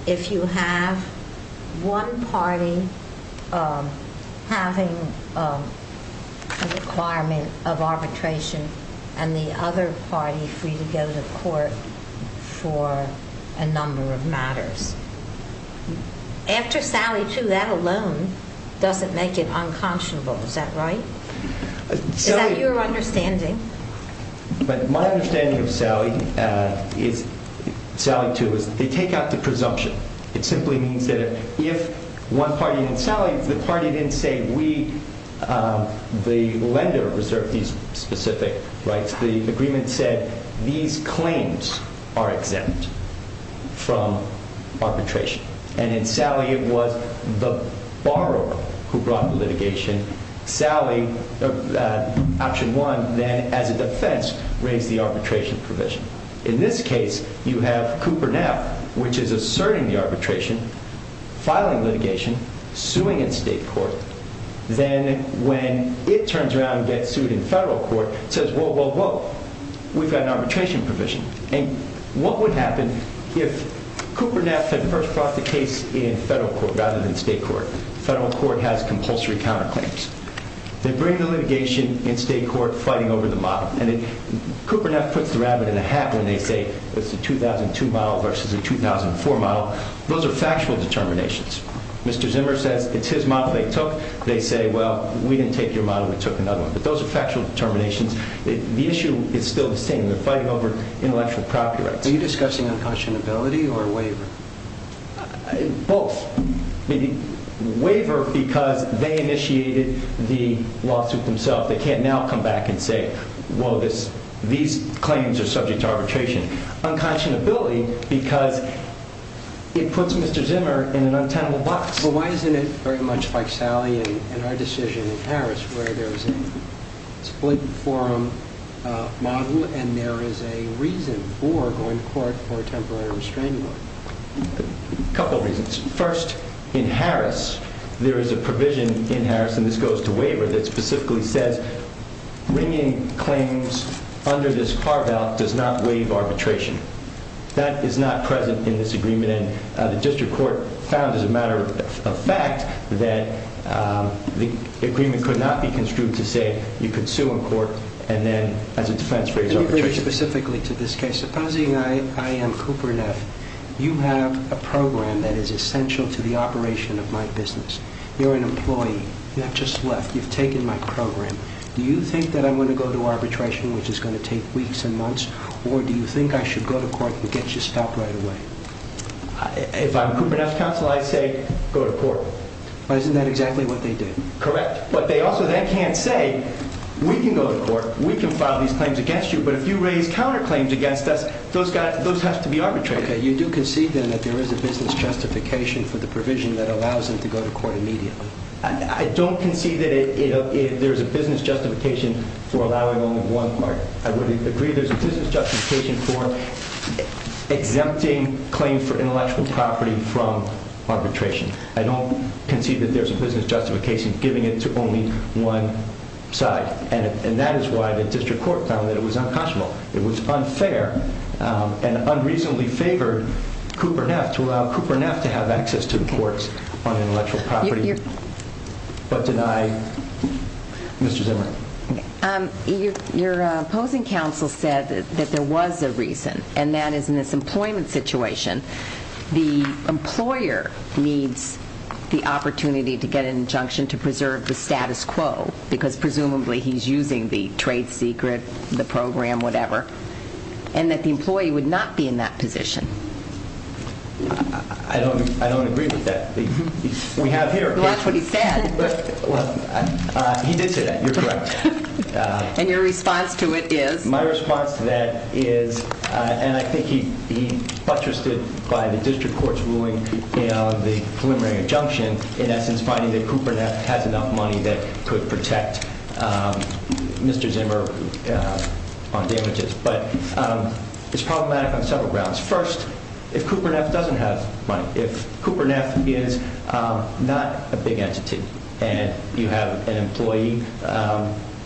if you have one party having a requirement of arbitration and the other party free to go to court for a number of matters? After Sally 2, that alone doesn't make it unconscionable. Is that right? Is that your understanding? But my understanding of Sally 2 is that they take out the presumption. It simply means that if one party didn't salvage, the party didn't say we, the lender, reserved these specific rights. The agreement said these claims are exempt from arbitration. And in Sally, it was the borrower who brought the litigation. Option 1 then, as a defense, raised the arbitration provision. In this case, you have Cooper now, which is asserting the arbitration, filing litigation, suing in state court. Then when it turns around and gets sued in federal court, it says, whoa, whoa, whoa, we've got an arbitration provision. And what would happen if Cooper Neff had first brought the case in federal court rather than state court? Federal court has compulsory counterclaims. They bring the litigation in state court fighting over the model. And Cooper Neff puts the rabbit in the hat when they say it's a 2002 model versus a 2004 model. Those are factual determinations. Mr. Zimmer says it's his model they took. They say, well, we didn't take your model. We took another one. But those are factual determinations. The issue is still the same. They're fighting over intellectual property rights. Are you discussing unconscionability or waiver? Both. Waiver because they initiated the lawsuit themselves. They can't now come back and say, whoa, these claims are subject to arbitration. Unconscionability because it puts Mr. Zimmer in an untenable box. Well, why isn't it very much like Sally and our decision in Harris where there's a split forum model and there is a reason for going to court for a temporary restraining order? A couple of reasons. First, in Harris, there is a provision in Harris, and this goes to waiver, that specifically says bringing claims under this carve-out does not waive arbitration. That is not present in this agreement. The district court found, as a matter of fact, that the agreement could not be construed to say you could sue in court and then as a defense raise arbitration. Let me bring it specifically to this case. Supposing I am Cooper Neff. You have a program that is essential to the operation of my business. You're an employee. You have just left. You've taken my program. Do you think that I'm going to go to arbitration, which is going to take weeks and months, or do you think I should go to court and get you stopped right away? If I'm Cooper Neff counsel, I say go to court. But isn't that exactly what they did? Correct. But they also then can't say we can go to court, we can file these claims against you, but if you raise counterclaims against us, those have to be arbitrated. Okay. You do concede then that there is a business justification for the provision that allows them to go to court immediately. I don't concede that there is a business justification for allowing only one part. I would agree there's a business justification for exempting claims for intellectual property from arbitration. I don't concede that there's a business justification giving it to only one side. And that is why the district court found that it was unconscionable. It was unfair and unreasonably favored Cooper Neff to allow Cooper Neff to have access to the courts on intellectual property, but denied Mr. Zimmer. Your opposing counsel said that there was a reason, and that is in this employment situation, the employer needs the opportunity to get an injunction to preserve the status quo, because presumably he's using the trade secret, the program, whatever, and that the employee would not be in that position. I don't agree with that. That's what he said. He did say that. You're correct. And your response to it is? My response to that is, and I think he buttressed it by the district court's ruling in the preliminary injunction, in essence finding that Cooper Neff has enough money that could protect Mr. Zimmer on damages. But it's problematic on several grounds. First, if Cooper Neff doesn't have money, if Cooper Neff is not a big entity, and you have an employee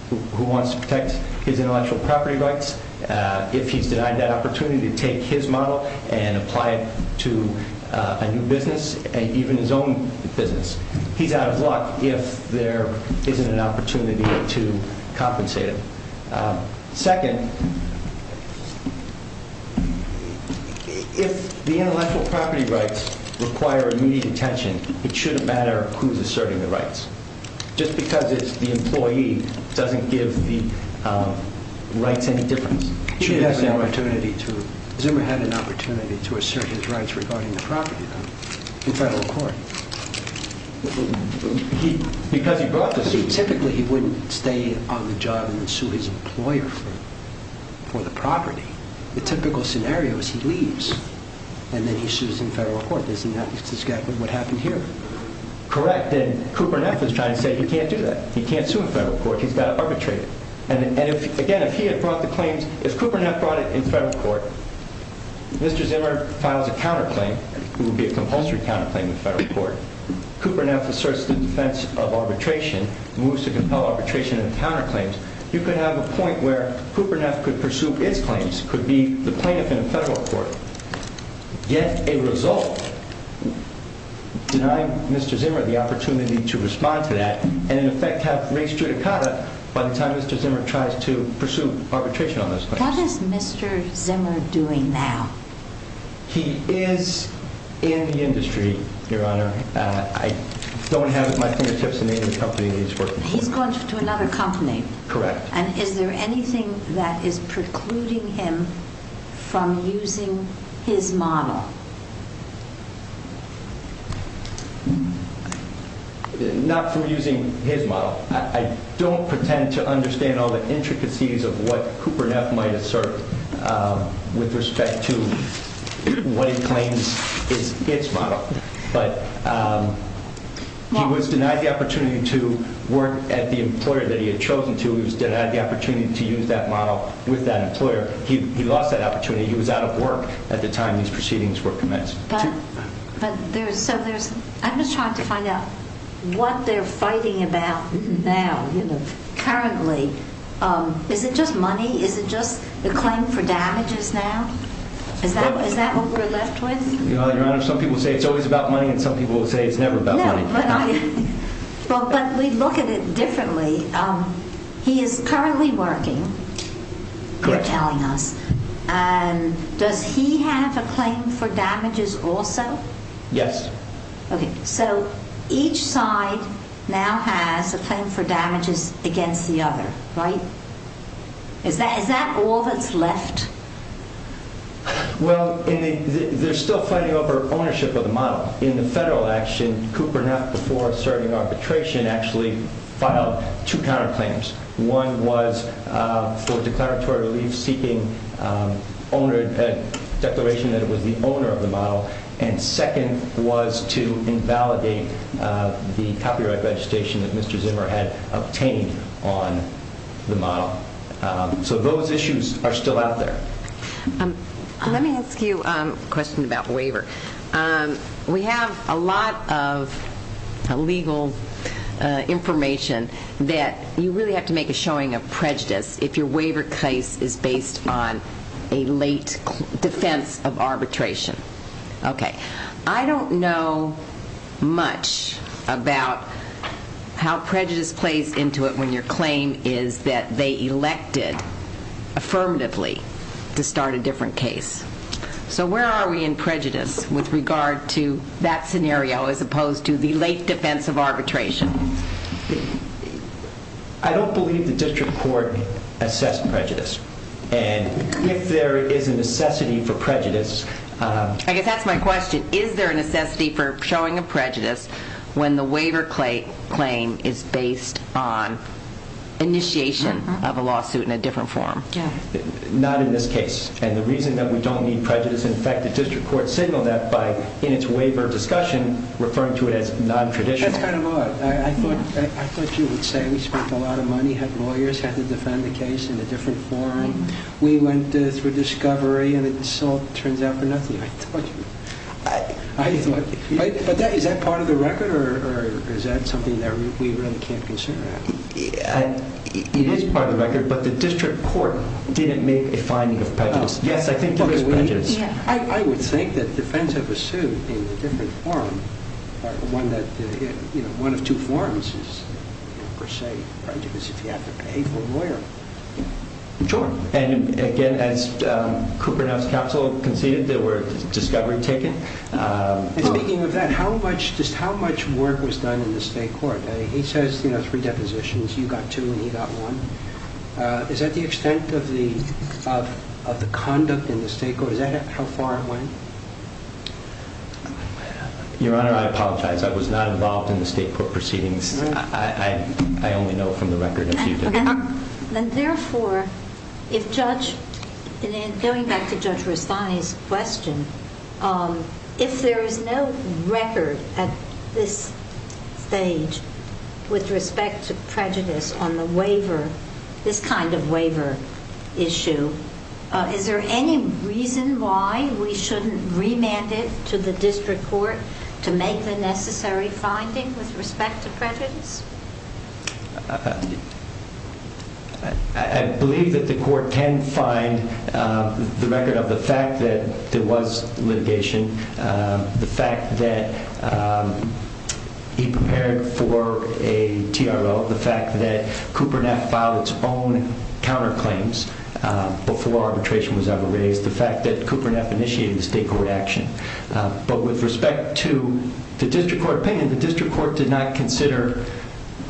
who wants to protect his intellectual property rights, if he's denied that opportunity to take his model and apply it to a new business, even his own business, he's out of luck if there isn't an opportunity to compensate him. Second, if the intellectual property rights require immediate attention, it shouldn't matter who's asserting the rights. Just because it's the employee doesn't give the rights any difference. He didn't have an opportunity to. Zimmer had an opportunity to assert his rights regarding the property rights in federal court. Because he brought the suit. Typically, he wouldn't stay on the job and sue his employer for the property. The typical scenario is he leaves, and then he sues in federal court. Isn't that what happened here? Correct. Cooper Neff is trying to say he can't do that. He can't sue in federal court. He's got to arbitrate it. Again, if Cooper Neff brought it in federal court, Mr. Zimmer files a counterclaim. It would be a compulsory counterclaim in federal court. Cooper Neff asserts the defense of arbitration, moves to compel arbitration and counterclaims. You could have a point where Cooper Neff could pursue his claims, could be the plaintiff in a federal court, get a result, deny Mr. Zimmer the opportunity to respond to that, and in effect have race judicata by the time Mr. Zimmer tries to pursue arbitration on those claims. What is Mr. Zimmer doing now? He is in the industry, Your Honor. I don't have it at my fingertips the name of the company he's working for. He's going to another company. Correct. And is there anything that is precluding him from using his model? Not from using his model. I don't pretend to understand all the intricacies of what Cooper Neff might assert with respect to what he claims is his model. But he was denied the opportunity to work at the employer that he had chosen to. He was denied the opportunity to use that model with that employer. He lost that opportunity. He was out of work at the time these proceedings were commenced. I'm just trying to find out what they're fighting about now. Currently, is it just money? Is it just the claim for damages now? Is that what we're left with? Your Honor, some people say it's always about money, and some people say it's never about money. But we look at it differently. He is currently working, you're telling us. Correct. And does he have a claim for damages also? Yes. Okay, so each side now has a claim for damages against the other, right? Is that all that's left? Well, they're still fighting over ownership of the model. In the federal action, Cooper Neff, before asserting arbitration, actually filed two counterclaims. One was for declaratory relief seeking declaration that it was the owner of the model, and second was to invalidate the copyright registration that Mr. Zimmer had obtained on the model. So those issues are still out there. Let me ask you a question about waiver. We have a lot of legal information that you really have to make a showing of prejudice if your waiver case is based on a late defense of arbitration. Okay. I don't know much about how prejudice plays into it when your claim is that they elected affirmatively to start a different case. So where are we in prejudice with regard to that scenario as opposed to the late defense of arbitration? I don't believe the district court assessed prejudice. And if there is a necessity for prejudice... I guess that's my question. Is there a necessity for showing of prejudice when the waiver claim is based on initiation of a lawsuit in a different form? Not in this case. And the reason that we don't need prejudice, in fact, the district court signaled that in its waiver discussion, referring to it as non-traditional. That's kind of odd. I thought you would say we spent a lot of money, had lawyers, had to defend the case in a different forum. We went through discovery, and it all turns out for nothing. But is that part of the record, or is that something that we really can't consider? It is part of the record, but the district court didn't make a finding of prejudice. Yes, I think there is prejudice. I would think that defense of a suit in a different forum, one of two forums, is per se prejudice if you have to pay for a lawyer. Sure. And again, as Cooper Neff's counsel conceded, there were discovery taken. And speaking of that, just how much work was done in the state court? He says three depositions. You got two and he got one. Is that the extent of the conduct in the state court? Is that how far it went? Your Honor, I apologize. I only know from the record that you did. And therefore, going back to Judge Rustani's question, if there is no record at this stage with respect to prejudice on this kind of waiver issue, is there any reason why we shouldn't remand it to the district court I believe that the court can find the record of the fact that there was litigation, the fact that he prepared for a TRO, the fact that Cooper Neff filed its own counterclaims before arbitration was ever raised, the fact that Cooper Neff initiated the state court action. But with respect to the district court opinion, the district court did not consider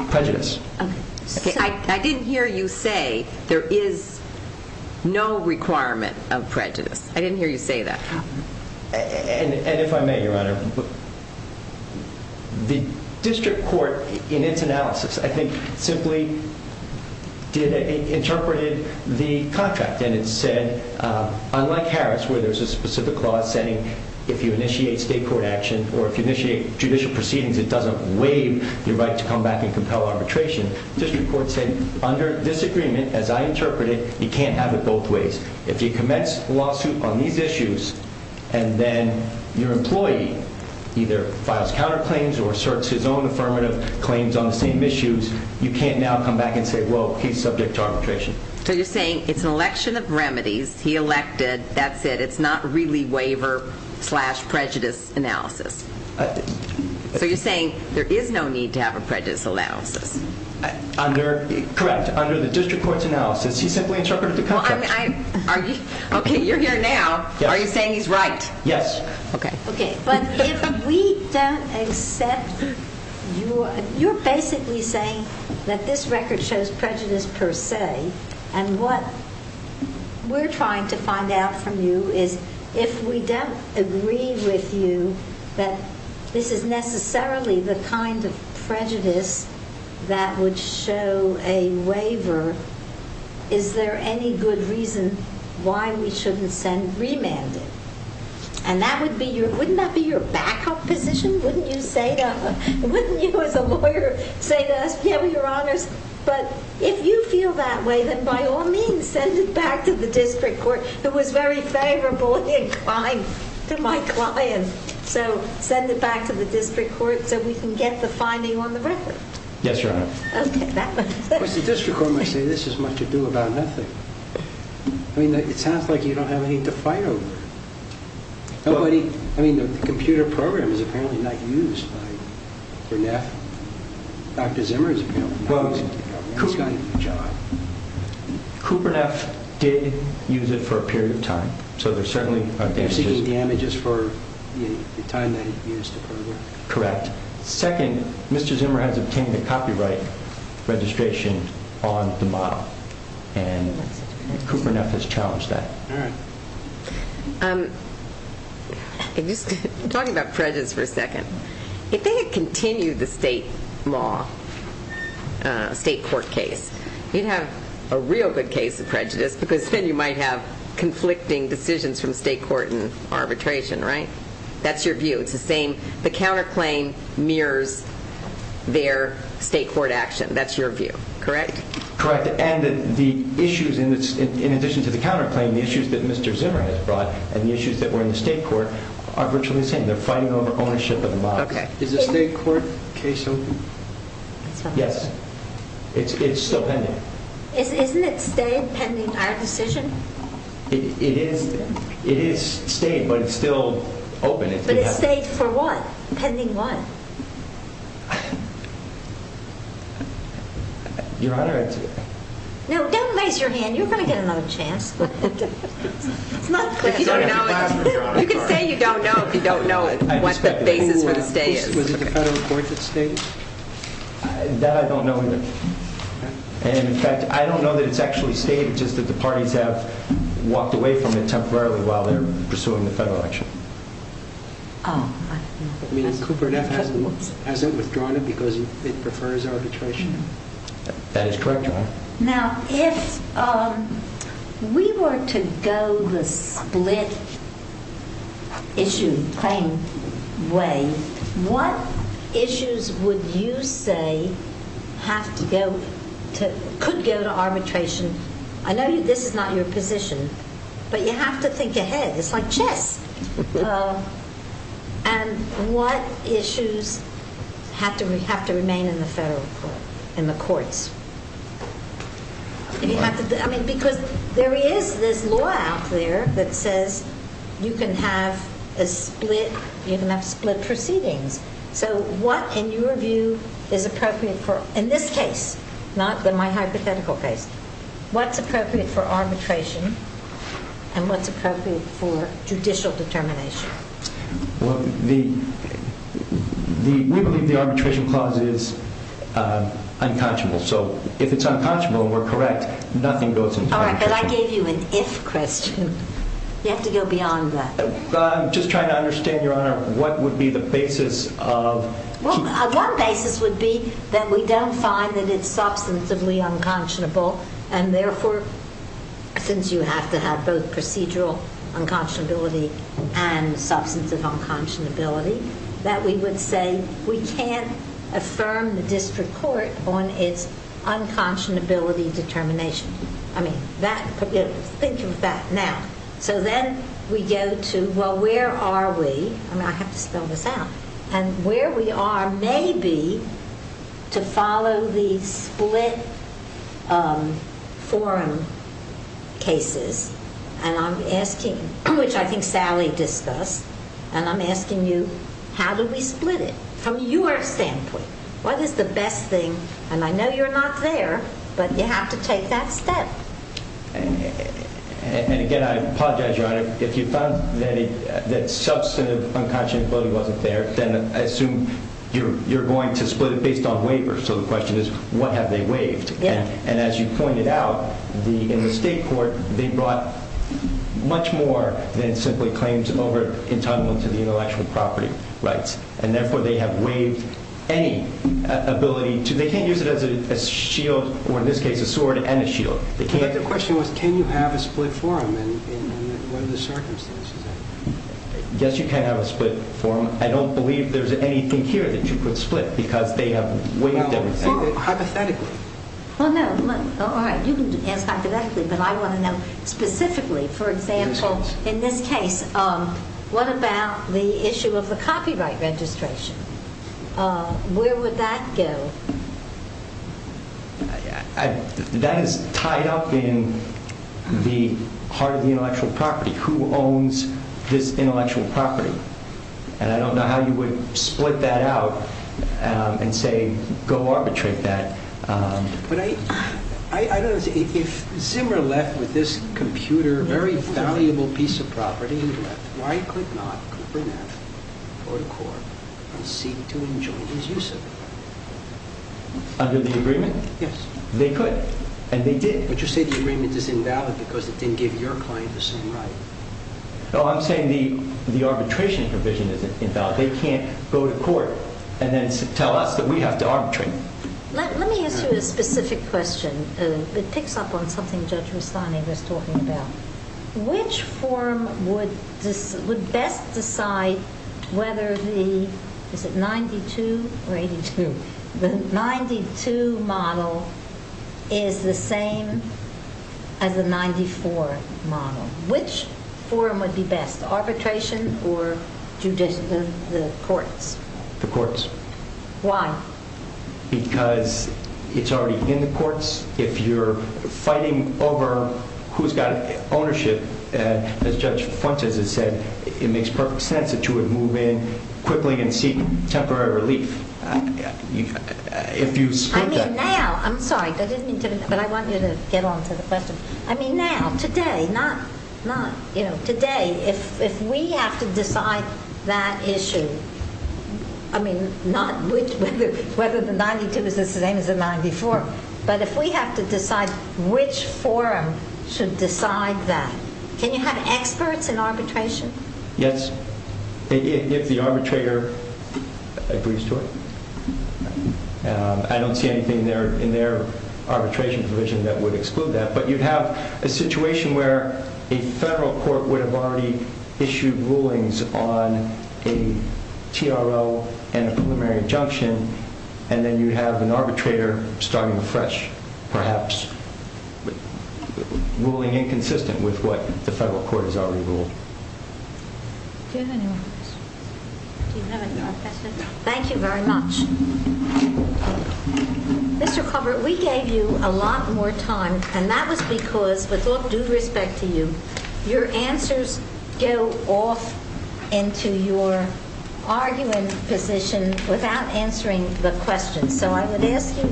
prejudice. I didn't hear you say there is no requirement of prejudice. I didn't hear you say that. And if I may, Your Honor, the district court in its analysis, I think, simply interpreted the contract. And it said, unlike Harris, where there's a specific clause saying if you initiate state court action or if you initiate judicial proceedings, it doesn't waive your right to come back and compel arbitration. District court said, under this agreement, as I interpreted, you can't have it both ways. If you commence a lawsuit on these issues, and then your employee either files counterclaims or asserts his own affirmative claims on the same issues, you can't now come back and say, well, he's subject to arbitration. So you're saying it's an election of remedies. He elected. That's it. It's not really waiver-slash-prejudice analysis. So you're saying there is no need to have a prejudice analysis. Correct. Under the district court's analysis, he simply interpreted the contract. Okay, you're here now. Are you saying he's right? Yes. Okay. But if we don't accept your... You're basically saying that this record shows prejudice per se, and what we're trying to find out from you is if we don't agree with you that this is necessarily the kind of prejudice that would show a waiver, is there any good reason why we shouldn't send remanded? And that would be your... Wouldn't that be your backup position? Wouldn't you, as a lawyer, say to us, yeah, we're your honors, but if you feel that way, then by all means, send it back to the district court. It was very favorable and inclined to my client. So send it back to the district court so we can get the finding on the record. Yes, Your Honor. Okay, that makes sense. But the district court might say this has much to do about nothing. I mean, it sounds like you don't have anything to fight over. Nobody... I mean, the computer program is apparently not used by Berneth. Dr. Zimmer is apparently not using the computer program. He's got a job. Cooper and F did use it for a period of time, so there certainly are damages. They're seeking damages for the time that it used earlier? Correct. Second, Mr. Zimmer has obtained a copyright registration on the model, and Cooper and F has challenged that. All right. I'm just talking about prejudice for a second. If they had continued the state law, state court case, you'd have a real good case of prejudice because then you might have conflicting decisions from state court and arbitration, right? That's your view. It's the same. The counterclaim mirrors their state court action. That's your view, correct? Correct. And the issues in addition to the counterclaim, the issues that Mr. Zimmer has brought and the issues that were in the state court are virtually the same. They're fighting over ownership of the model. Is the state court case open? Yes. It's still pending. Isn't it state pending our decision? It is state, but it's still open. But it's state for what? Pending what? Your Honor, I'd say. No, don't raise your hand. You're going to get another chance. It's not clear. You can say you don't know if you don't know what the basis for the state is. Was it the Federal Court that stated? That I don't know either. And, in fact, I don't know that it's actually stated, just that the parties have walked away from it temporarily while they're pursuing the federal action. Oh. Cooper and F hasn't withdrawn it because it prefers arbitration? That is correct, Your Honor. Now, if we were to go the split issue claim way, what issues would you say could go to arbitration? I know this is not your position, but you have to think ahead. It's like chess. And what issues have to remain in the federal court, in the courts? Because there is this law out there that says you can have split proceedings. So what, in your view, is appropriate for, in this case, not my hypothetical case, what's appropriate for arbitration and what's appropriate for judicial determination? Well, we believe the arbitration clause is unconscionable. So if it's unconscionable and we're correct, nothing goes into arbitration. All right, but I gave you an if question. You have to go beyond that. I'm just trying to understand, Your Honor, what would be the basis of keeping it? Well, one basis would be that we don't find that it's substantively unconscionable, and therefore, since you have to have both procedural unconscionability and substantive unconscionability, that we would say we can't affirm the district court on its unconscionability determination. I mean, think of that now. So then we go to, well, where are we? I mean, I have to spell this out. And where we are may be to follow the split forum cases, and I'm asking, which I think Sally discussed, and I'm asking you how do we split it from your standpoint? What is the best thing? And I know you're not there, but you have to take that step. And again, I apologize, Your Honor. If you found that substantive unconscionability wasn't there, then I assume you're going to split it based on waivers. So the question is what have they waived? And as you pointed out, in the state court, they brought much more than simply claims over entitlement to the intellectual property rights, and therefore, they have waived any ability. They can't use it as a shield, or in this case, a sword and a shield. But the question was can you have a split forum, and what are the circumstances of it? Yes, you can have a split forum. I don't believe there's anything here that you could split because they have waived everything. Well, hypothetically. Well, no. All right, you can ask hypothetically, but I want to know specifically. For example, in this case, what about the issue of the copyright registration? Where would that go? That is tied up in the heart of the intellectual property. Who owns this intellectual property? And I don't know how you would split that out and say go arbitrate that. But I don't see it. If Zimmer left with this computer, a very valuable piece of property, why could not Cooper Neff go to court and seek to enjoin his use of it? Under the agreement? Yes. They could, and they did. But you say the agreement is invalid because it didn't give your client the same right. No, I'm saying the arbitration provision is invalid. They can't go to court and then tell us that we have to arbitrate. Let me ask you a specific question. It picks up on something Judge Rustani was talking about. Which forum would best decide whether the 92 model is the same as the 94 model? Which forum would be best, arbitration or the courts? The courts. Why? Because it's already in the courts. If you're fighting over who's got ownership, as Judge Fontes has said, it makes perfect sense that you would move in quickly and seek temporary relief. If you split that. I'm sorry, but I want you to get on to the question. Now, today, if we have to decide that issue, not whether the 92 is the same as the 94, but if we have to decide which forum should decide that, can you have experts in arbitration? Yes, if the arbitrator agrees to it. I don't see anything in their arbitration provision that would exclude that. But you'd have a situation where a federal court would have already issued rulings on a TRO and a preliminary injunction, and then you'd have an arbitrator starting afresh, perhaps ruling inconsistent with what the federal court has already ruled. Do you have any more questions? Do you have any more questions? Thank you very much. Mr. Colbert, we gave you a lot more time, and that was because, with all due respect to you, your answers go off into your argument position without answering the questions. So I would ask you,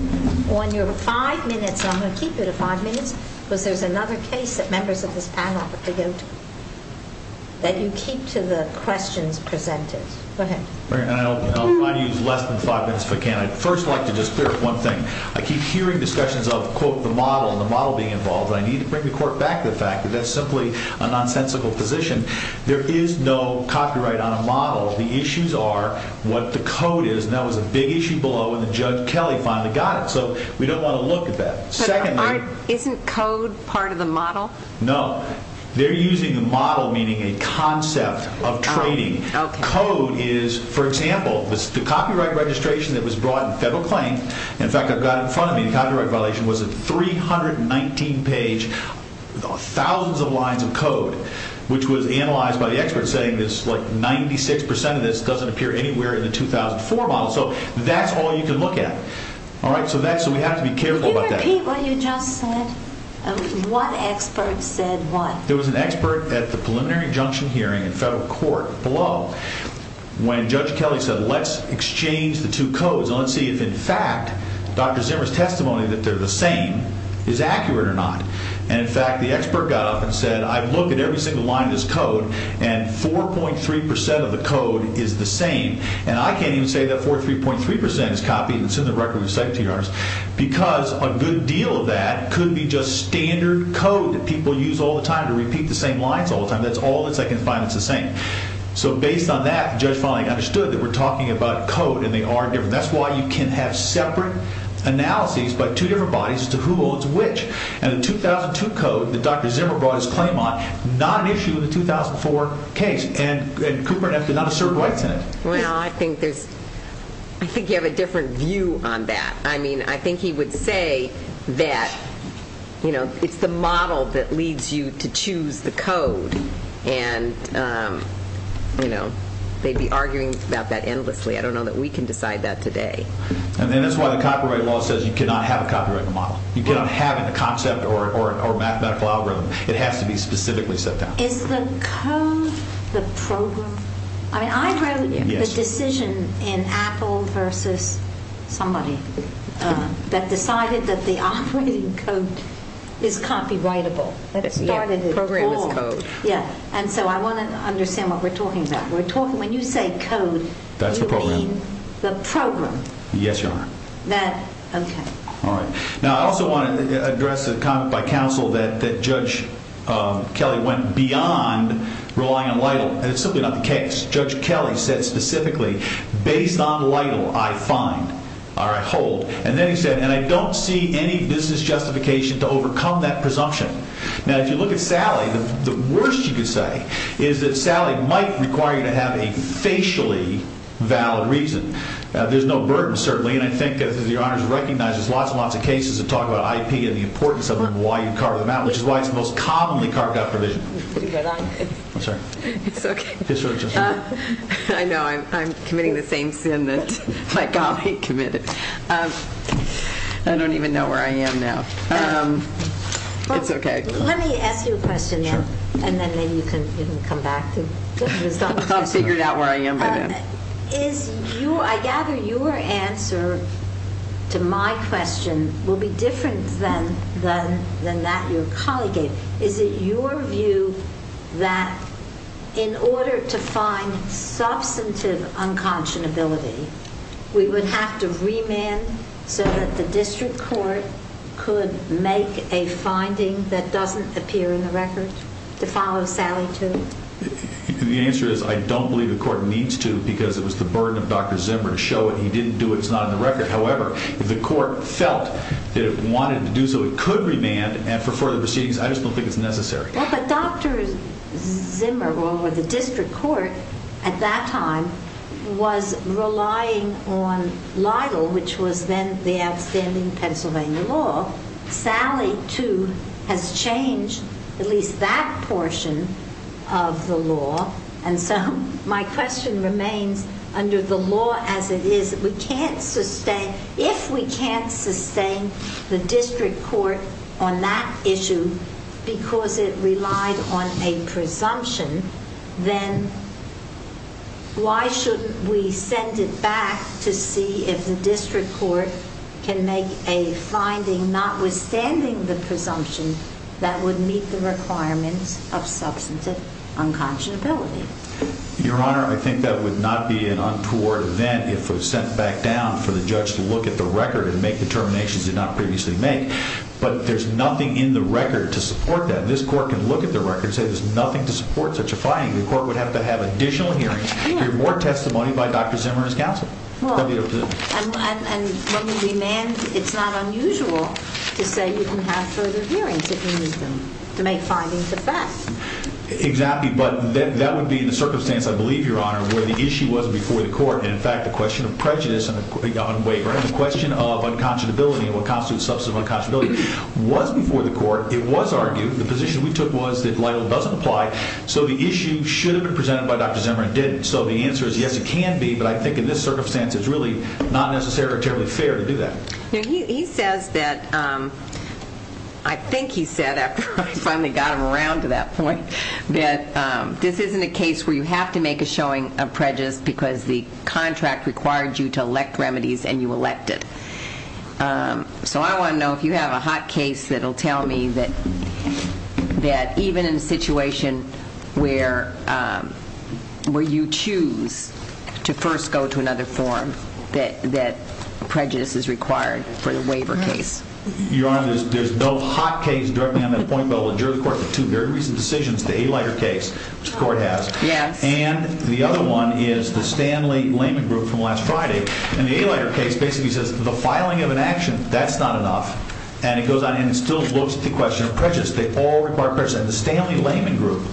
on your five minutes, I'm going to keep it at five minutes, because there's another case that members of this panel have to go to, that you keep to the questions presented. Go ahead. I'll use less than five minutes if I can. I'd first like to just clear up one thing. I keep hearing discussions of, quote, the model and the model being involved, and I need to bring the court back to the fact that that's simply a nonsensical position. There is no copyright on a model. The issues are what the code is, and that was a big issue below, and then Judge Kelly finally got it, so we don't want to look at that. But isn't code part of the model? No. They're using the model, meaning a concept of trading. Code is, for example, the copyright registration that was brought in federal claim, in fact, I've got it in front of me, the copyright violation was a 319-page, thousands of lines of code, which was analyzed by the experts, saying that 96% of this doesn't appear anywhere in the 2004 model. So that's all you can look at. So we have to be careful about that. Can you repeat what you just said? What expert said what? There was an expert at the preliminary injunction hearing in federal court below when Judge Kelly said, let's exchange the two codes, and let's see if, in fact, Dr. Zimmer's testimony that they're the same is accurate or not. And, in fact, the expert got up and said, I've looked at every single line of this code, and 4.3% of the code is the same. And I can't even say that 4.3% is copied and it's in the record we've sent to you, because a good deal of that could be just standard code that people use all the time to repeat the same lines all the time. That's all that I can find that's the same. So based on that, the judge finally understood that we're talking about code, and they are different. That's why you can have separate analyses by two different bodies as to who owns which. And the 2002 code that Dr. Zimmer brought his claim on, not an issue in the 2004 case. And Cooper and Eftin are not asserted rights in it. Well, I think you have a different view on that. I mean, I think he would say that it's the model that leads you to choose the code, and they'd be arguing about that endlessly. I don't know that we can decide that today. And that's why the copyright law says you cannot have a copyrighted model. You cannot have a concept or a mathematical algorithm. It has to be specifically set down. Is the code the program? I mean, I wrote the decision in Apple versus somebody that decided that the operating code is copyrightable. The program is code. Yeah, and so I want to understand what we're talking about. When you say code, you mean the program. Yes, Your Honor. Okay. All right. Now, I also want to address a comment by counsel that Judge Kelly went beyond relying on LIDL, and it's simply not the case. Judge Kelly said specifically, based on LIDL, I find or I hold. And then he said, and I don't see any business justification to overcome that presumption. Now, if you look at Sally, the worst you could say is that Sally might require you to have a facially valid reason. There's no burden, certainly, and I think, as Your Honor has recognized, there's lots and lots of cases that talk about IP and the importance of it and why you carve them out, which is why it's the most commonly carved out provision. Did you hear that? I'm sorry. It's okay. I know. I'm committing the same sin that my colleague committed. I don't even know where I am now. It's okay. Let me ask you a question now, and then maybe you can come back. I've figured out where I am by then. I gather your answer to my question will be different than that your colleague gave. Is it your view that in order to find substantive unconscionability, we would have to remand so that the district court could make a finding that doesn't appear in the record to follow Sally to? The answer is I don't believe the court needs to because it was the burden of Dr. Zimmer to show it. He didn't do it. It's not in the record. However, if the court felt that it wanted to do so, it could remand for further proceedings. I just don't think it's necessary. But Dr. Zimmer, or the district court at that time, was relying on LIDL, which was then the outstanding Pennsylvania law. Sally, too, has changed at least that portion of the law. And so my question remains under the law as it is. If we can't sustain the district court on that issue because it relied on a presumption, then why shouldn't we send it back to see if the district court can make a finding notwithstanding the presumption that would meet the requirements of substantive unconscionability? Your Honor, I think that would not be an untoward event if it was sent back down for the judge to look at the record and make determinations it did not previously make. But there's nothing in the record to support that. This court can look at the record and say there's nothing to support such a finding. The court would have to have additional hearings, more testimony by Dr. Zimmer and his counsel. And when we remand, it's not unusual to say you can have further hearings if you use them to make findings of that. Exactly. But that would be the circumstance, I believe, Your Honor, where the issue was before the court. And in fact, the question of prejudice on waiver and the question of unconscionability and what constitutes substantive unconscionability was before the court. It was argued. The position we took was that Lytle doesn't apply. So the issue should have been presented by Dr. Zimmer and did. So the answer is yes, it can be. But I think in this circumstance, it's really not necessarily terribly fair to do that. He says that, I think he said after I finally got him around to that point, that this isn't a case where you have to make a showing of prejudice because the contract required you to elect remedies and you elected. So I want to know if you have a hot case that will tell me that even in a situation where you choose to first go to another form that prejudice is required for the waiver case. Your Honor, there's no hot case directly on that point. But we'll adjourn the court for two very recent decisions. The Alighter case, which the court has. Yes. And the other one is the Stanley-Layman group from last Friday. And the Alighter case basically says the filing of an action, that's not enough. And it goes on and it still looks at the question of prejudice. They all require prejudice. And the Stanley-Layman group,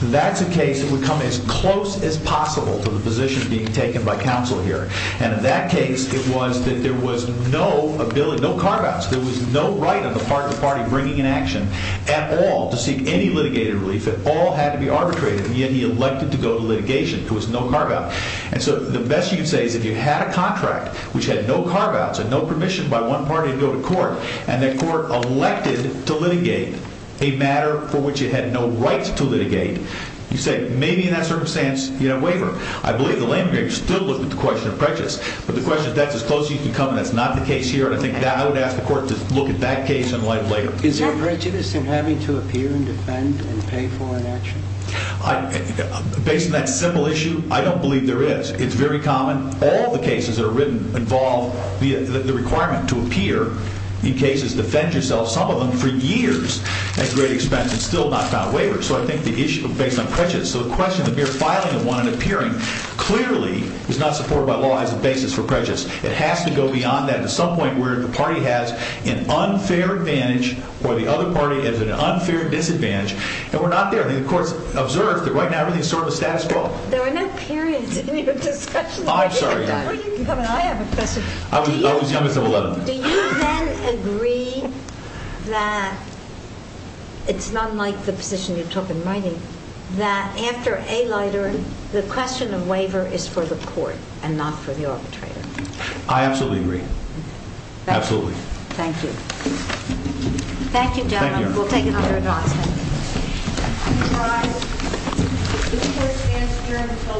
that's a case that would come as close as possible to the position being taken by counsel here. And in that case, it was that there was no ability, no carve-outs. There was no right on the part of the party bringing an action at all to seek any litigated relief. It all had to be arbitrated. And yet he elected to go to litigation. There was no carve-out. And so the best you can say is if you had a contract which had no carve-outs and no permission by one party to go to court, and the court elected to litigate a matter for which it had no right to litigate, you say maybe in that circumstance you have a waiver. I believe the Layman group still looked at the question of prejudice. But the question is that's as close as you can come and that's not the case here. And I think I would ask the court to look at that case in light later. Is there prejudice in having to appear and defend and pay for an action? Based on that simple issue, I don't believe there is. It's very common. All the cases that are written involve the requirement to appear in cases, defend yourself, some of them for years at great expense and still not got a waiver. So I think the issue based on prejudice. So the question of the mere filing of one and appearing clearly is not supported by law as a basis for prejudice. It has to go beyond that to some point where the party has an unfair advantage or the other party has an unfair disadvantage. And we're not there. I think the court has observed that right now everything is sort of a status quo. There are no periods in your discussion. I'm sorry. Where are you coming from? I have a question. I was young as 11. Do you then agree that it's not like the position you took in writing that after a lighter the question of waiver is for the court and not for the arbitrator? I absolutely agree. Absolutely. Thank you. Thank you, gentlemen. We'll take another advance. This court stands adjourned until 11.30 a.m.